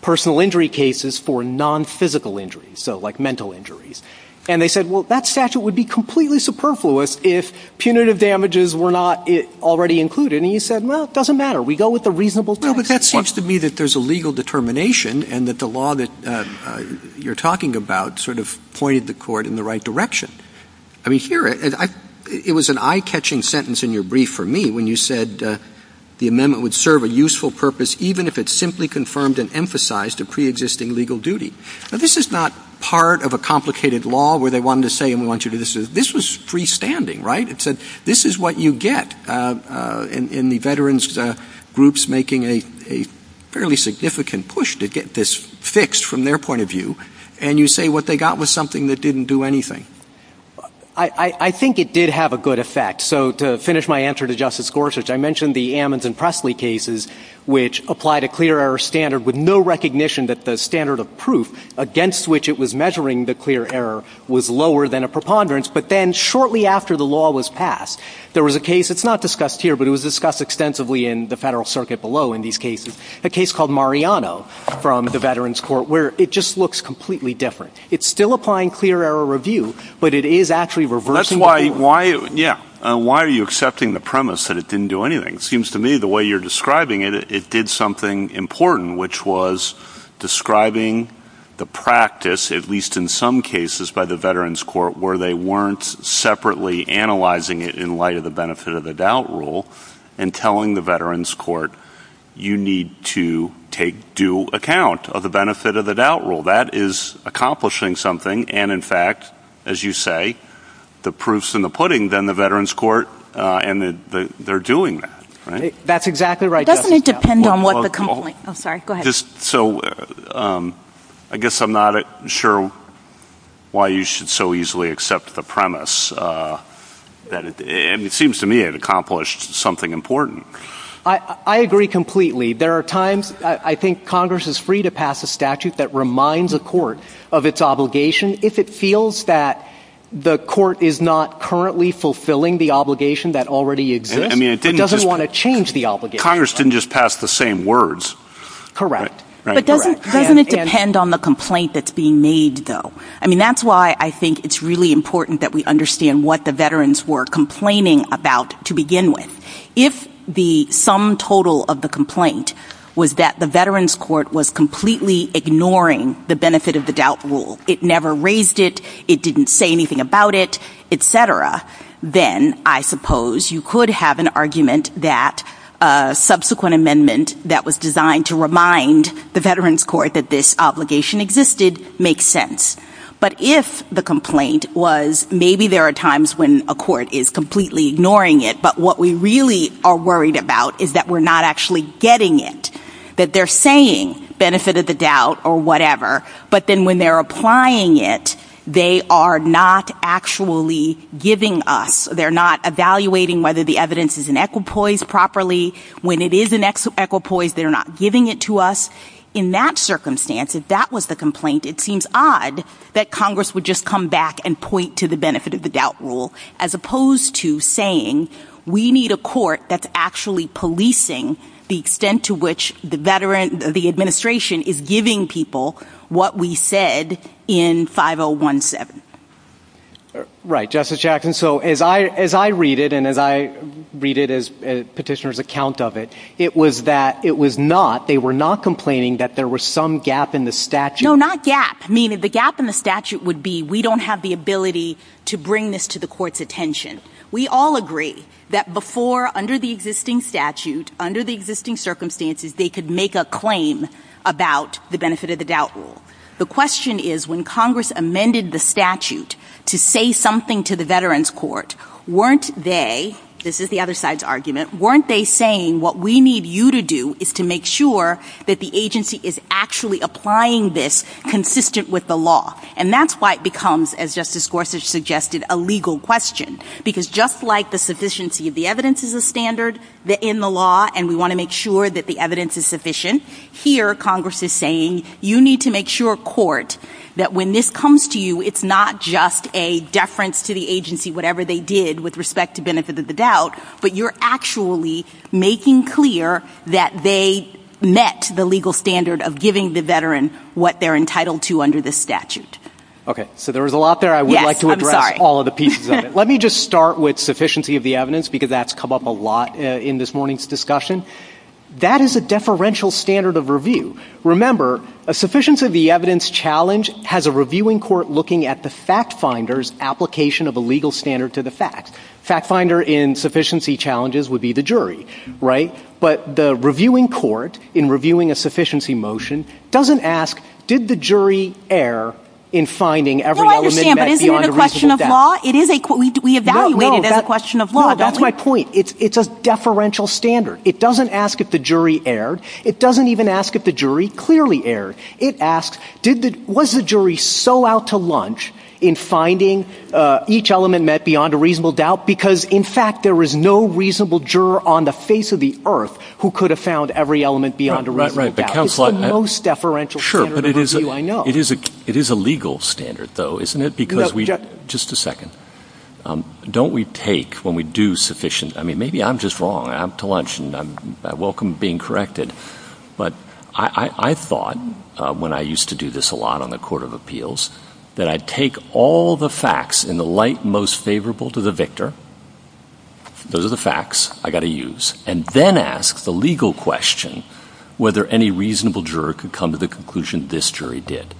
personal injury cases for nonphysical injuries, so like mental injuries. And they said, well, that statute would be completely superfluous if punitive damages were not already included. And he said, well, it doesn't matter. We go with the reasonable tax. No, but that seems to me that there's a legal determination and that the law that you're talking about sort of pointed the court in the right direction. I mean, here, it was an eye-catching sentence in your brief for me when you said the amendment would serve a useful purpose even if it simply confirmed and emphasized a preexisting legal duty. Now, this is not part of a complicated law where they wanted to say, and we want you to do this. This was freestanding, right? It said this is what you get in the veterans groups making a fairly significant push to get this fixed from their point of view. And you say what they got was something that didn't do anything. I think it did have a good effect. So to finish my answer to Justice Gorsuch, I mentioned the Ammons and Presley cases which applied a clear error standard with no recognition that the standard of proof against which it was measuring the clear error was lower than a preponderance. But then shortly after the law was passed, there was a case. It's not discussed here, but it was discussed extensively in the federal circuit below in these cases, a case called Mariano from the Veterans Court where it just looks completely different. It's still applying clear error review, but it is actually reversing it. Why are you accepting the premise that it didn't do anything? It seems to me the way you're describing it, it did something important, which was describing the practice, at least in some cases by the Veterans Court, where they weren't separately analyzing it in light of the benefit of the doubt rule and telling the Veterans Court you need to take due account of the benefit of the doubt rule. That is accomplishing something. And, in fact, as you say, the proof's in the pudding, then, the Veterans Court, and they're doing that. That's exactly right. Doesn't it depend on what the complaint is? I'm sorry. Go ahead. So I guess I'm not sure why you should so easily accept the premise. It seems to me it accomplished something important. I agree completely. There are times I think Congress is free to pass a statute that reminds a court of its obligation. If it feels that the court is not currently fulfilling the obligation that already exists, it doesn't want to change the obligation. Congress didn't just pass the same words. Correct. But doesn't it depend on the complaint that's being made, though? I mean, that's why I think it's really important that we understand what the Veterans were complaining about to begin with. If the sum total of the complaint was that the Veterans Court was completely ignoring the benefit of the doubt rule, it never raised it, it didn't say anything about it, etc., then I suppose you could have an argument that a subsequent amendment that was designed to remind the Veterans Court that this obligation existed makes sense. But if the complaint was maybe there are times when a court is completely ignoring it, but what we really are worried about is that we're not actually getting it, that they're saying benefit of the doubt or whatever, but then when they're applying it, they are not actually giving us. They're not evaluating whether the evidence is in equipoise properly. When it is in equipoise, they're not giving it to us. In that circumstance, if that was the complaint, it seems odd that Congress would just come back and point to the benefit of the doubt rule as opposed to saying we need a court that's actually policing the extent to which the administration is giving people what we said in 5017. Right, Justice Jackson. So as I read it and as I read it as a petitioner's account of it, it was that it was not, they were not complaining that there was some gap in the statute. No, not gap. The gap in the statute would be we don't have the ability to bring this to the court's attention. We all agree that before, under the existing statute, under the existing circumstances, they could make a claim about the benefit of the doubt rule. The question is when Congress amended the statute to say something to the Veterans Court, weren't they, this is the other side's argument, weren't they saying what we need you to do is to make sure that the agency is actually applying this consistent with the law, and that's why it becomes, as Justice Gorsuch suggested, a legal question. Because just like the sufficiency of the evidence is a standard in the law, and we want to make sure that the evidence is sufficient, here Congress is saying you need to make sure, court, that when this comes to you, it's not just a deference to the agency, whatever they did with respect to benefit of the doubt, but you're actually making clear that they met the legal standard of giving the Veteran what they're entitled to under the statute. Okay, so there was a lot there, I would like to address all of the pieces of it. Let me just start with sufficiency of the evidence, because that's come up a lot in this morning's discussion. That is a deferential standard of review. Remember, a sufficiency of the evidence challenge has a reviewing court looking at the fact finder's application of a legal standard to the fact. Fact finder in sufficiency challenges would be the jury, right? But the reviewing court, in reviewing a sufficiency motion, doesn't ask, did the jury err in finding every element met beyond a reasonable doubt? Well, I understand, but isn't it a question of law? We evaluate it as a question of law, doesn't it? No, that's my point. It's a deferential standard. It doesn't ask if the jury erred. It doesn't even ask if the jury clearly erred. It asks, was the jury so out to lunch in finding each element met beyond a reasonable doubt, because, in fact, there is no reasonable juror on the face of the earth who could have found every element beyond a reasonable doubt. It's the most deferential standard of review I know. Sure, but it is a legal standard, though, isn't it? Just a second. Don't we take, when we do sufficient, I mean, maybe I'm just wrong. I'm to lunch, and I welcome being corrected. But I thought, when I used to do this a lot on the Court of Appeals, that I'd take all the facts in the light most favorable to the victor, those are the facts I've got to use, and then ask the legal question whether any reasonable juror could come to the conclusion this jury did.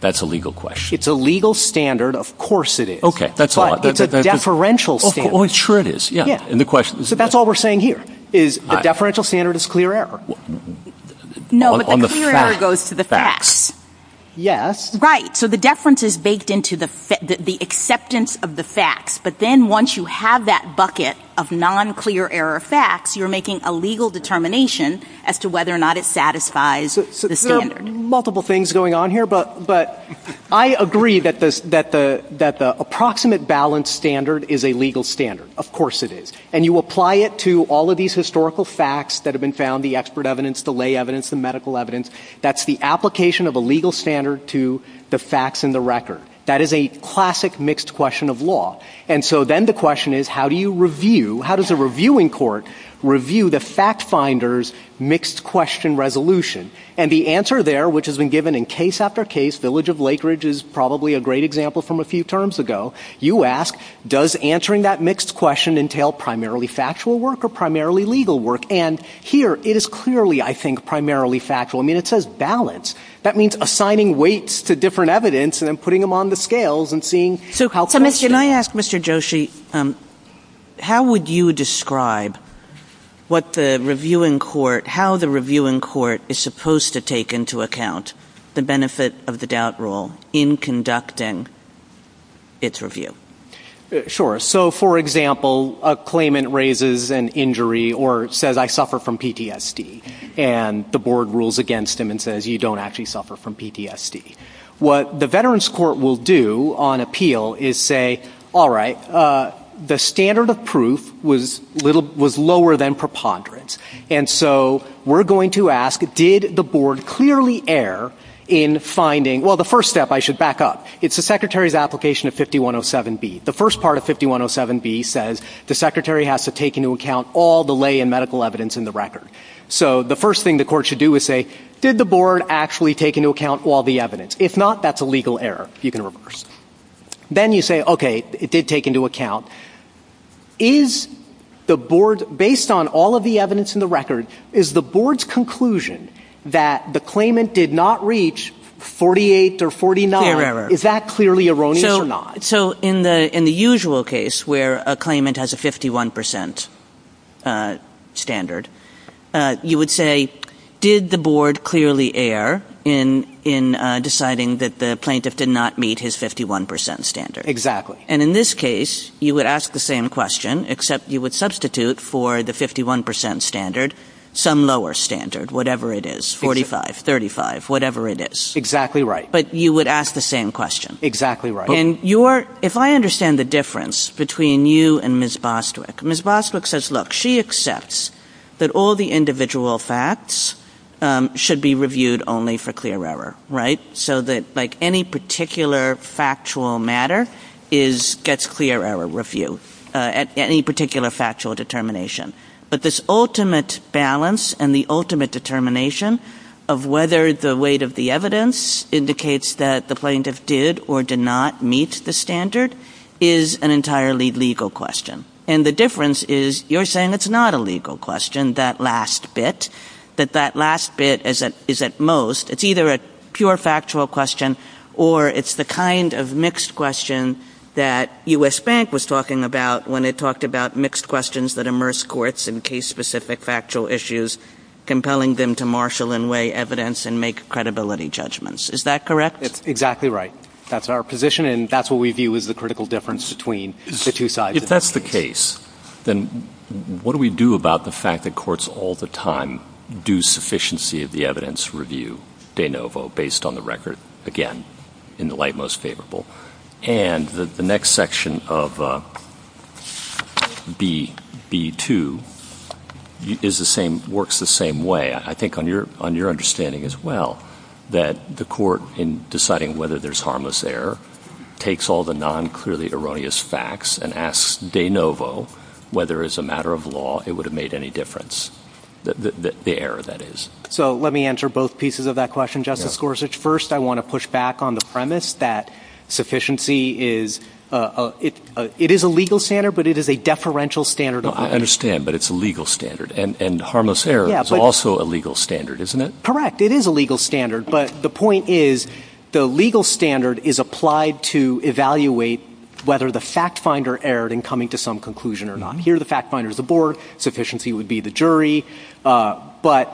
That's a legal question. It's a legal standard. Of course it is. Okay, that's all I've got. But it's a deferential standard. Oh, sure it is. Yeah. So that's all we're saying here, is the deferential standard is clear error. No, but the clear error goes to the facts. Yes. Right, so the deference is baked into the acceptance of the facts, but then once you have that bucket of non-clear error facts, you're making a legal determination as to whether or not it satisfies the standard. So there are multiple things going on here, but I agree that the approximate balance standard is a legal standard. Of course it is. And you apply it to all of these historical facts that have been found, the expert evidence, the lay evidence, the medical evidence. That's the application of a legal standard to the facts in the record. That is a classic mixed question of law. And so then the question is how do you review, how does a reviewing court review the fact finder's mixed question resolution? And the answer there, which has been given in case after case, Village of Lakeridge is probably a great example from a few terms ago, you ask does answering that mixed question entail primarily factual work or primarily legal work? And here it is clearly, I think, primarily factual. I mean, it says balance. That means assigning weights to different evidence and then putting them on the scales and seeing. Can I ask, Mr. Joshi, how would you describe what the reviewing court, how the reviewing court is supposed to take into account the benefit of the doubt rule in conducting its review? Sure. So, for example, a claimant raises an injury or says I suffer from PTSD and the board rules against him and says you don't actually suffer from PTSD. What the veterans court will do on appeal is say, all right, the standard of proof was lower than preponderance. And so we're going to ask did the board clearly err in finding, well, the first step I should back up. It's the secretary's application of 5107B. The first part of 5107B says the secretary has to take into account all the lay and medical evidence in the record. So the first thing the court should do is say, did the board actually take into account all the evidence? If not, that's a legal error. You can reverse. Then you say, okay, it did take into account. Is the board, based on all of the evidence in the record, is the board's conclusion that the claimant did not reach 48 or 49, is that clearly erroneous or not? So in the usual case where a claimant has a 51% standard, you would say, did the board clearly err in deciding that the plaintiff did not meet his 51% standard? Exactly. And in this case, you would ask the same question, except you would substitute for the 51% standard some lower standard, whatever it is, 45, 35, whatever it is. Exactly right. But you would ask the same question. Exactly right. And if I understand the difference between you and Ms. Bostwick, Ms. Bostwick says, look, she accepts that all the individual facts should be reviewed only for clear error, right? So that, like, any particular factual matter gets clear error review at any particular factual determination. But this ultimate balance and the ultimate determination of whether the weight of the evidence indicates that the plaintiff did or did not meet the standard is an entirely legal question. And the difference is you're saying it's not a legal question, that last bit, that that last bit is at most, it's either a pure factual question or it's the kind of mixed question that U.S. Bank was talking about when it talked about mixed questions that immerse courts in case-specific factual issues, compelling them to marshal and weigh evidence and make credibility judgments. Is that correct? Exactly right. That's our position, and that's what we view as the critical difference between the two sides. If that's the case, then what do we do about the fact that courts all the time do sufficiency of the evidence review de novo based on the record, again, in the light most favorable? And the next section of B2 is the same, works the same way, I think, on your understanding as well, that the court, in deciding whether there's harmless error, takes all the non-clearly erroneous facts and asks de novo whether as a matter of law it would have made any difference, the error, that is. So let me answer both pieces of that question, Justice Gorsuch. First, I want to push back on the premise that sufficiency is, it is a legal standard, but it is a deferential standard. I understand, but it's a legal standard, and harmless error is also a legal standard, isn't it? Correct, it is a legal standard, but the point is, the legal standard is applied to evaluate whether the fact finder erred in coming to some conclusion or not. Here the fact finder is the board, sufficiency would be the jury, but,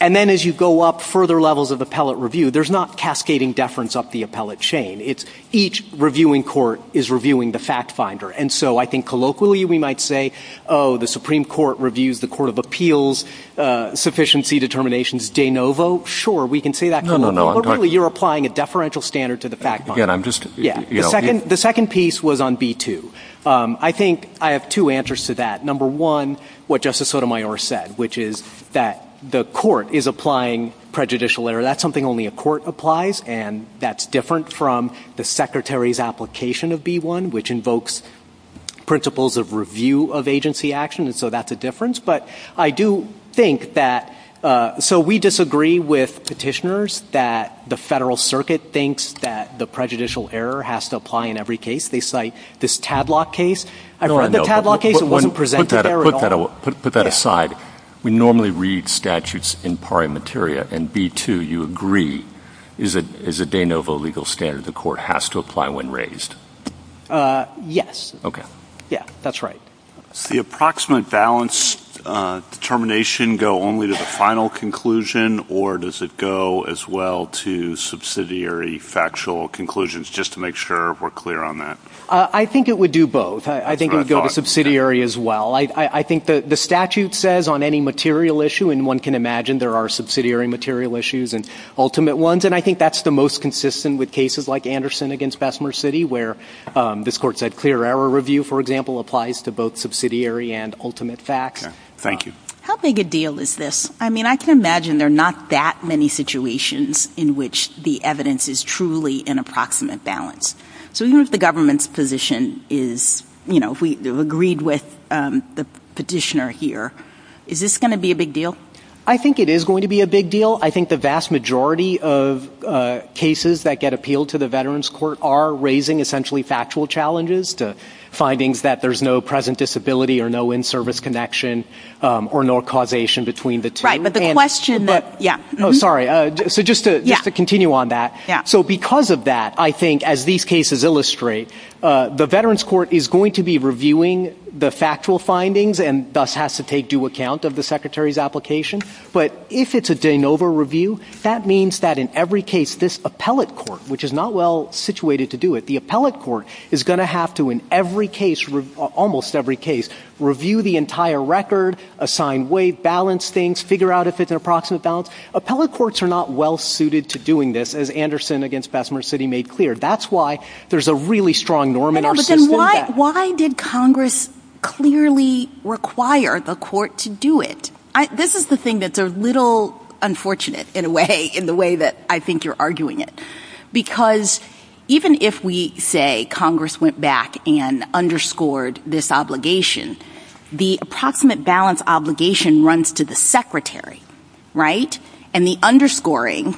and then as you go up further levels of appellate review, there's not cascading deference up the appellate chain. It's each reviewing court is reviewing the fact finder, and so I think colloquially we might say, oh, the Supreme Court reviews the Court of Appeals, sufficiency determination is de novo. Sure, we can say that, but colloquially you're applying a deferential standard to the fact finder. The second piece was on B2. I think I have two answers to that. Number one, what Justice Sotomayor said, which is that the court is applying prejudicial error. That's something only a court applies, and that's different from the Secretary's application of B1, which invokes principles of review of agency action, and so that's a difference. But I do think that, so we disagree with petitioners that the Federal Circuit thinks that the prejudicial error has to apply in every case. No, I know, but put that aside. We normally read statutes in pari materia, and B2, you agree, is a de novo legal standard the court has to apply when raised. Yes. Okay. Yeah, that's right. The approximate balance determination go only to the final conclusion, or does it go as well to subsidiary factual conclusions, just to make sure we're clear on that? I think it would do both. I think it would go to subsidiary as well. I think the statute says on any material issue, and one can imagine there are subsidiary material issues and ultimate ones, and I think that's the most consistent with cases like Anderson against Bessemer City, where this court said clear error review, for example, applies to both subsidiary and ultimate facts. Thank you. How big a deal is this? I mean, I can imagine there are not that many situations in which the evidence is truly in approximate balance. So even if the government's position is, you know, if we agreed with the petitioner here, is this going to be a big deal? I think it is going to be a big deal. I think the vast majority of cases that get appealed to the Veterans Court are raising essentially factual challenges, the findings that there's no present disability or no in-service connection or no causation between the two. Right, but the question that, yeah. Oh, sorry. So just to continue on that. So because of that, I think, as these cases illustrate, the Veterans Court is going to be reviewing the factual findings and thus has to take due account of the Secretary's application. But if it's a de novo review, that means that in every case, this appellate court, which is not well-situated to do it, the appellate court is going to have to, in every case, almost every case, review the entire record, assign weight, balance things, figure out if it's in approximate balance. Appellate courts are not well-suited to doing this, as Anderson against Bessemer City made clear. That's why there's a really strong norm in our system. Why did Congress clearly require the court to do it? This is the thing that's a little unfortunate, in a way, in the way that I think you're arguing it. Because even if we say Congress went back and underscored this obligation, the approximate balance obligation runs to the Secretary, right? And the underscoring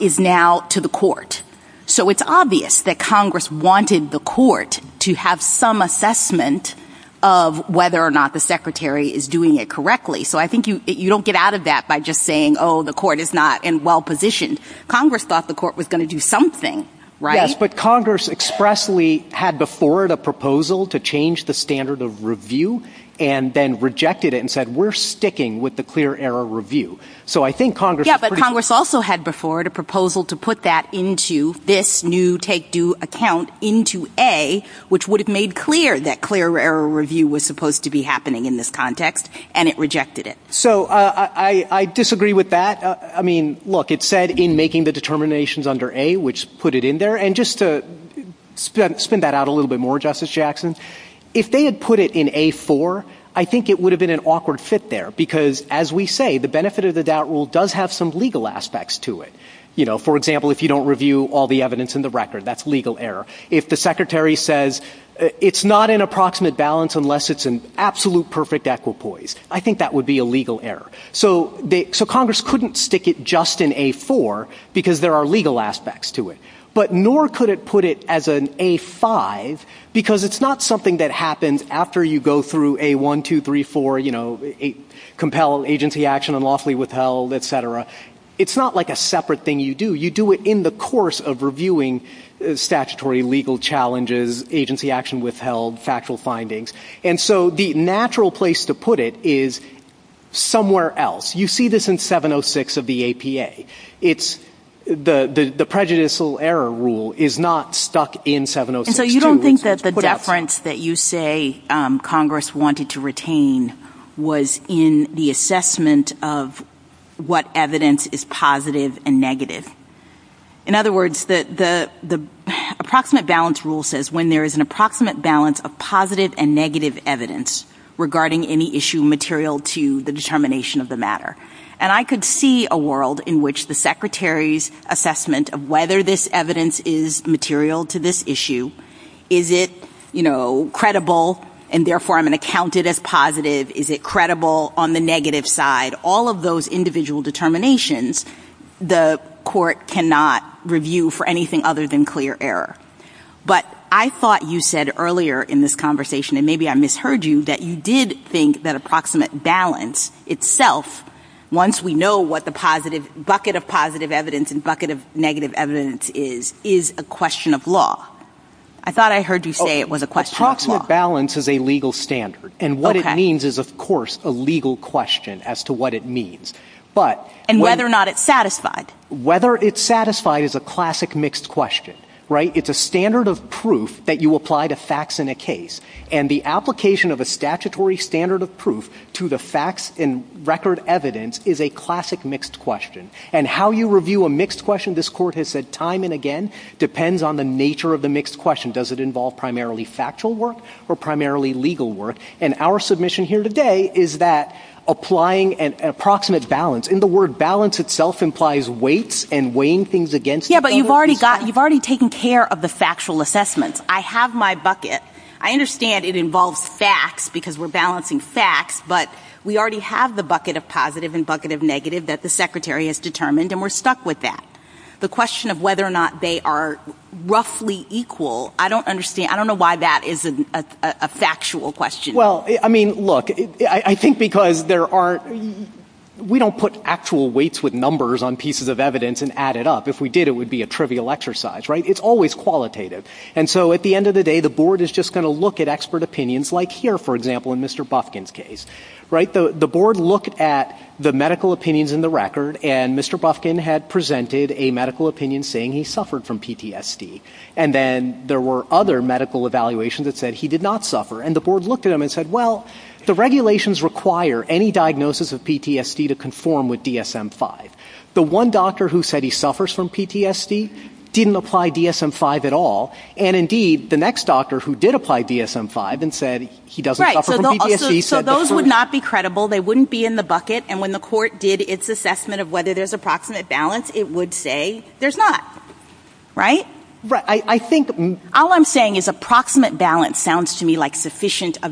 is now to the court. So it's obvious that Congress wanted the court to have some assessment of whether or not the Secretary is doing it correctly. So I think you don't get out of that by just saying, oh, the court is not in well-positioned. Congress thought the court was going to do something, right? Yes, but Congress expressly had before it a proposal to change the standard of review and then rejected it and said, we're sticking with the clear error review. Yes, but Congress also had before it a proposal to put that into this new take-due account into A, which would have made clear that clear error review was supposed to be happening in this context, and it rejected it. So I disagree with that. I mean, look, it said in making the determinations under A, which put it in there. And just to spin that out a little bit more, Justice Jackson, if they had put it in A-4, I think it would have been an awkward fit there. Because, as we say, the benefit of the doubt rule does have some legal aspects to it. You know, for example, if you don't review all the evidence in the record, that's legal error. If the Secretary says it's not in approximate balance unless it's in absolute perfect equipoise, I think that would be a legal error. So Congress couldn't stick it just in A-4 because there are legal aspects to it. But nor could it put it as an A-5 because it's not something that happens after you go through A-1, 2, 3, 4, you know, compel agency action and lawfully withheld, et cetera. It's not like a separate thing you do. You do it in the course of reviewing statutory legal challenges, agency action withheld, factual findings. And so the natural place to put it is somewhere else. You see this in 706 of the APA. The prejudicial error rule is not stuck in 706. And so you don't think that the deference that you say Congress wanted to retain was in the assessment of what evidence is positive and negative. In other words, the approximate balance rule says when there is an approximate balance of positive and negative evidence regarding any issue material to the determination of the matter. And I could see a world in which the secretary's assessment of whether this evidence is material to this issue, is it, you know, credible, and therefore I'm going to count it as positive, is it credible on the negative side, all of those individual determinations, the court cannot review for anything other than clear error. But I thought you said earlier in this conversation, and maybe I misheard you, that you did think that approximate balance itself, once we know what the bucket of positive evidence and bucket of negative evidence is, is a question of law. I thought I heard you say it was a question of law. Approximate balance is a legal standard. And what it means is, of course, a legal question as to what it means. And whether or not it's satisfied. Whether it's satisfied is a classic mixed question. It's a standard of proof that you apply to facts in a case. And the application of a statutory standard of proof to the facts and record evidence is a classic mixed question. And how you review a mixed question, this court has said time and again, depends on the nature of the mixed question. Does it involve primarily factual work or primarily legal work? And our submission here today is that applying an approximate balance. And the word balance itself implies weights and weighing things against the table. Yeah, but you've already taken care of the factual assessment. I have my bucket. I understand it involves facts because we're balancing facts. But we already have the bucket of positive and bucket of negative that the secretary has determined, and we're stuck with that. The question of whether or not they are roughly equal, I don't understand. I don't know why that is a factual question. Well, I mean, look, I think because we don't put actual weights with numbers on pieces of evidence and add it up. If we did, it would be a trivial exercise, right? It's always qualitative. And so at the end of the day, the board is just going to look at expert opinions like here, for example, in Mr. Bufkin's case. The board looked at the medical opinions in the record, and Mr. Bufkin had presented a medical opinion saying he suffered from PTSD. And then there were other medical evaluations that said he did not suffer. And the board looked at them and said, well, the regulations require any diagnosis of PTSD to conform with DSM-5. The one doctor who said he suffers from PTSD didn't apply DSM-5 at all. And, indeed, the next doctor who did apply DSM-5 and said he doesn't suffer from PTSD said the truth. Right, so those would not be credible. They wouldn't be in the bucket. And when the court did its assessment of whether there's approximate balance, it would say there's not. Right? All I'm saying is approximate balance sounds to me like sufficiency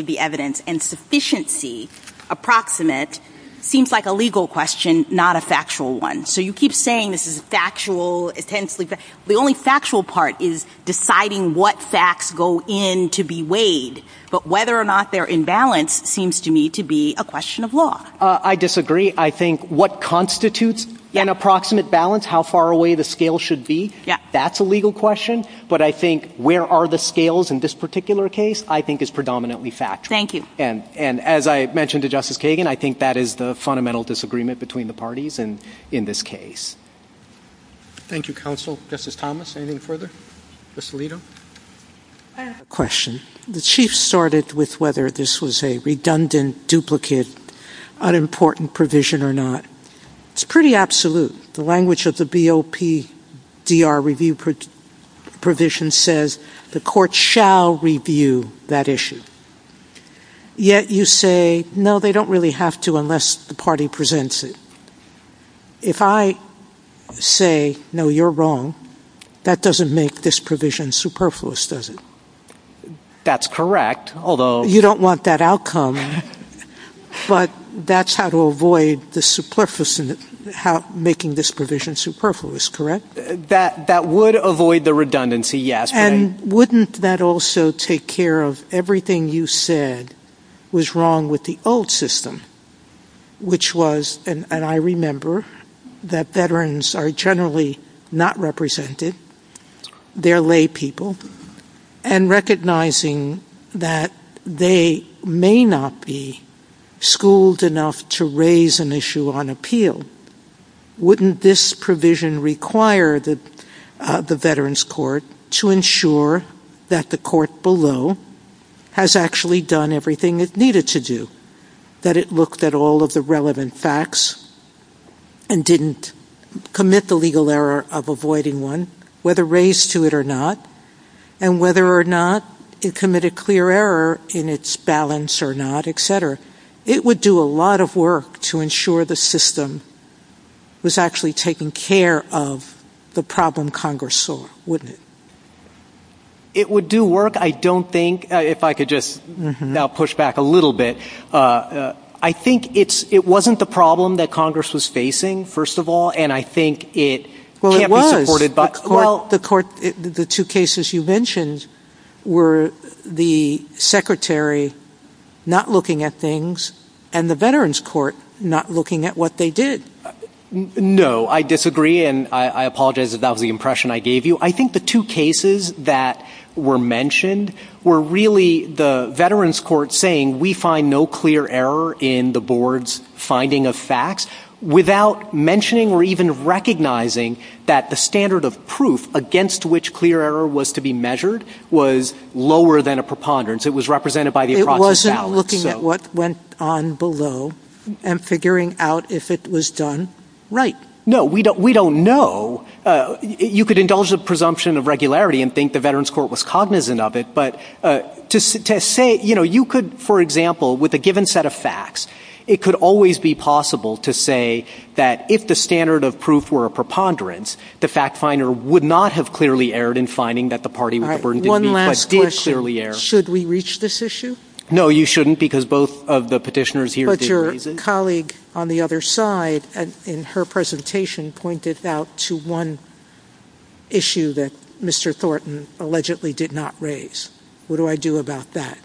of the evidence. And sufficiency, approximate, seems like a legal question, not a factual one. So you keep saying this is factual. The only factual part is deciding what facts go in to be weighed. But whether or not they're in balance seems to me to be a question of law. I disagree. I think what constitutes an approximate balance, how far away the scale should be, that's a legal question. But I think where are the scales in this particular case I think is predominantly factual. Thank you. And as I mentioned to Justice Kagan, I think that is the fundamental disagreement between the parties in this case. Thank you, Counsel. Justice Thomas, anything further? Justice Alito? I have a question. The Chief started with whether this was a redundant, duplicate, unimportant provision or not. It's pretty absolute. The language of the BOPDR review provision says the court shall review that issue. Yet you say, no, they don't really have to unless the party presents it. If I say, no, you're wrong, that doesn't make this provision superfluous, does it? That's correct. You don't want that outcome, but that's how to avoid making this provision superfluous, correct? That would avoid the redundancy, yes. And wouldn't that also take care of everything you said was wrong with the old system, which was, and I remember, that veterans are generally not represented. They're lay people. And recognizing that they may not be schooled enough to raise an issue on appeal, wouldn't this provision require the veterans court to ensure that the court below has actually done everything it needed to do, that it looked at all of the relevant facts and didn't commit the legal error of avoiding one, whether raised to it or not, and whether or not it committed clear error in its balance or not, et cetera? It would do a lot of work to ensure the system was actually taking care of the problem Congress solved, wouldn't it? It would do work, I don't think, if I could just now push back a little bit. I think it wasn't the problem that Congress was facing, first of all, and I think it can't be supported by the court. Well, the two cases you mentioned were the secretary not looking at things and the veterans court not looking at what they did. No, I disagree, and I apologize if that was the impression I gave you. I think the two cases that were mentioned were really the veterans court saying, we find no clear error in the board's finding of facts without mentioning or even recognizing that the standard of proof against which clear error was to be measured was lower than a preponderance. It was represented by the approximate balance. It wasn't looking at what went on below and figuring out if it was done. Right. No, we don't know. You could indulge the presumption of regularity and think the veterans court was cognizant of it, but to say, you know, you could, for example, with a given set of facts, it could always be possible to say that if the standard of proof were a preponderance, the fact finder would not have clearly erred in finding that the party with the burden did clearly err. Should we reach this issue? No, you shouldn't, because both of the petitioners here did raise it. My colleague on the other side in her presentation pointed out to one issue that Mr. Thornton allegedly did not raise. What do I do about that?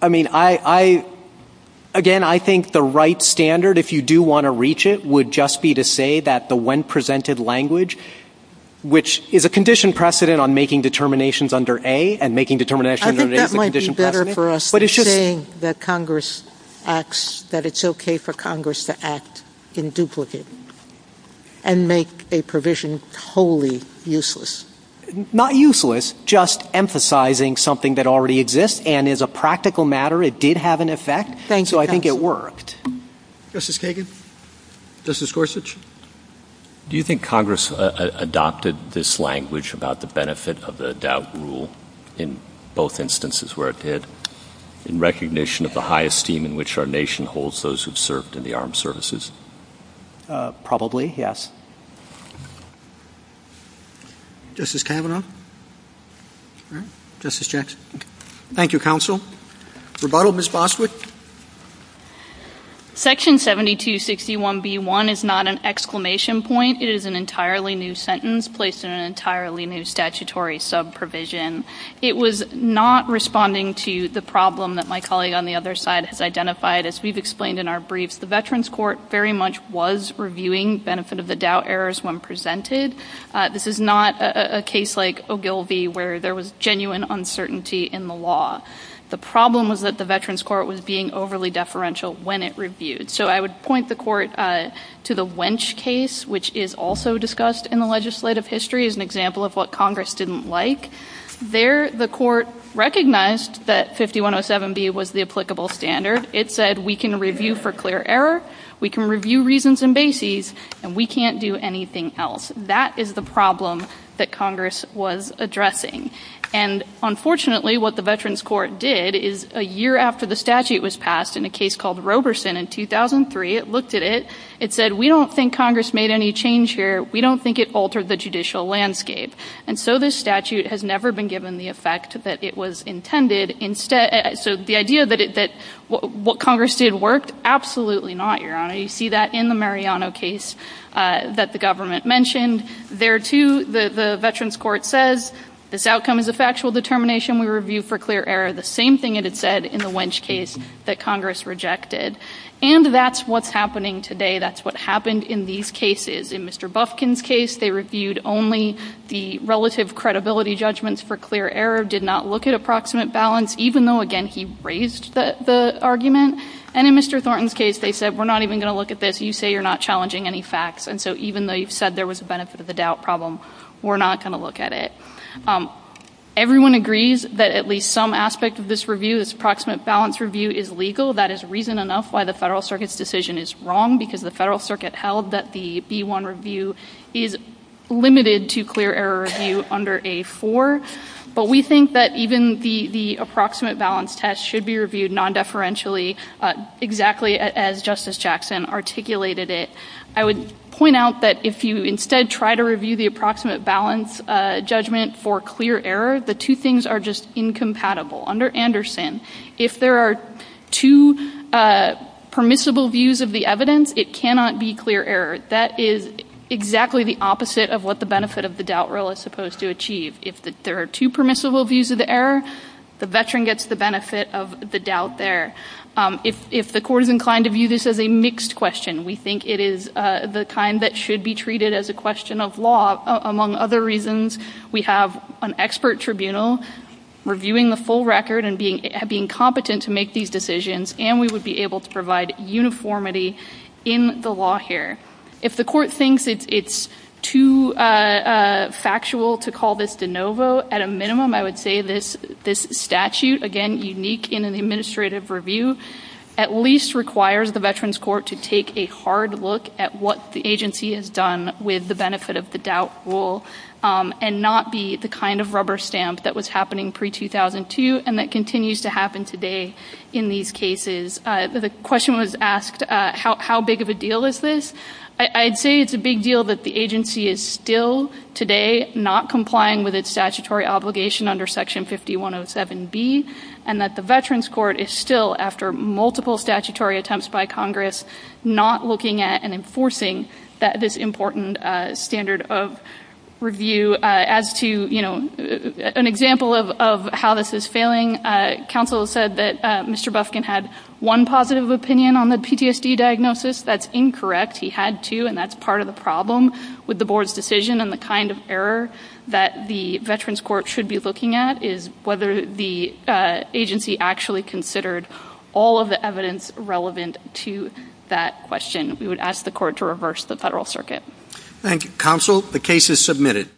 I mean, again, I think the right standard, if you do want to reach it, would just be to say that the one presented language, which is a condition precedent on making determinations under A and making determinations under A. Wouldn't it be better for us to say that Congress acts, that it's okay for Congress to act in duplicate and make a provision totally useless? Not useless, just emphasizing something that already exists and is a practical matter. It did have an effect, so I think it worked. Justice Kagan? Justice Gorsuch? Do you think Congress adopted this language about the benefit of the doubt rule in both instances where it did, in recognition of the high esteem in which our nation holds those who have served in the armed services? Probably, yes. Justice Kagan? Justice Jackson? Thank you, counsel. Rebuttal, Ms. Bosswood? Section 7261B1 is not an exclamation point. It is an entirely new sentence placed in an entirely new statutory subprovision. It was not responding to the problem that my colleague on the other side has identified. As we've explained in our brief, the Veterans Court very much was reviewing benefit of the doubt errors when presented. This is not a case like Ogilvie where there was genuine uncertainty in the law. The problem was that the Veterans Court was being overly deferential when it reviewed. So I would point the court to the Wench case, which is also discussed in the legislative history as an example of what Congress didn't like. There, the court recognized that 5107B was the applicable standard. It said we can review for clear error, we can review reasons and bases, and we can't do anything else. That is the problem that Congress was addressing. And unfortunately, what the Veterans Court did is a year after the statute was passed in a case called Roberson in 2003, it looked at it, it said we don't think Congress made any change here, we don't think it altered the judicial landscape. And so this statute has never been given the effect that it was intended. So the idea that what Congress did worked, absolutely not, Your Honor. You see that in the Mariano case that the government mentioned. And there, too, the Veterans Court says this outcome is a factual determination. We review for clear error the same thing it had said in the Wench case that Congress rejected. And that's what's happening today. That's what happened in these cases. In Mr. Bufkin's case, they reviewed only the relative credibility judgments for clear error, did not look at approximate balance, even though, again, he raised the argument. And in Mr. Thornton's case, they said we're not even going to look at this. You say you're not challenging any facts. And so even though you said there was a benefit of the doubt problem, we're not going to look at it. Everyone agrees that at least some aspect of this review, this approximate balance review, is legal. That is reason enough why the Federal Circuit's decision is wrong, because the Federal Circuit held that the B-1 review is limited to clear error review under A-4. But we think that even the approximate balance test should be reviewed nondeferentially, exactly as Justice Jackson articulated it. I would point out that if you instead try to review the approximate balance judgment for clear error, the two things are just incompatible. Under Anderson, if there are two permissible views of the evidence, it cannot be clear error. That is exactly the opposite of what the benefit of the doubt rule is supposed to achieve. If there are two permissible views of the error, the veteran gets the benefit of the doubt there. If the court is inclined to view this as a mixed question, we think it is the kind that should be treated as a question of law. Among other reasons, we have an expert tribunal reviewing the full record and being competent to make these decisions, and we would be able to provide uniformity in the law here. If the court thinks it's too factual to call this de novo, at a minimum, I would say this statute, again, unique in an administrative review, at least requires the veterans court to take a hard look at what the agency has done with the benefit of the doubt rule and not be the kind of rubber stamp that was happening pre-2002 and that continues to happen today in these cases. The question was asked, how big of a deal is this? I'd say it's a big deal that the agency is still, today, not complying with its statutory obligation under Section 5107B, and that the veterans court is still, after multiple statutory attempts by Congress, not looking at and enforcing this important standard of review. As to an example of how this is failing, counsel said that Mr. Buskin had one positive opinion on the PTSD diagnosis. That's incorrect. He had two, and that's part of the problem with the board's decision and the kind of error that the veterans court should be looking at is whether the agency actually considered all of the evidence relevant to that question. We would ask the court to reverse the federal circuit. Thank you, counsel. The case is submitted.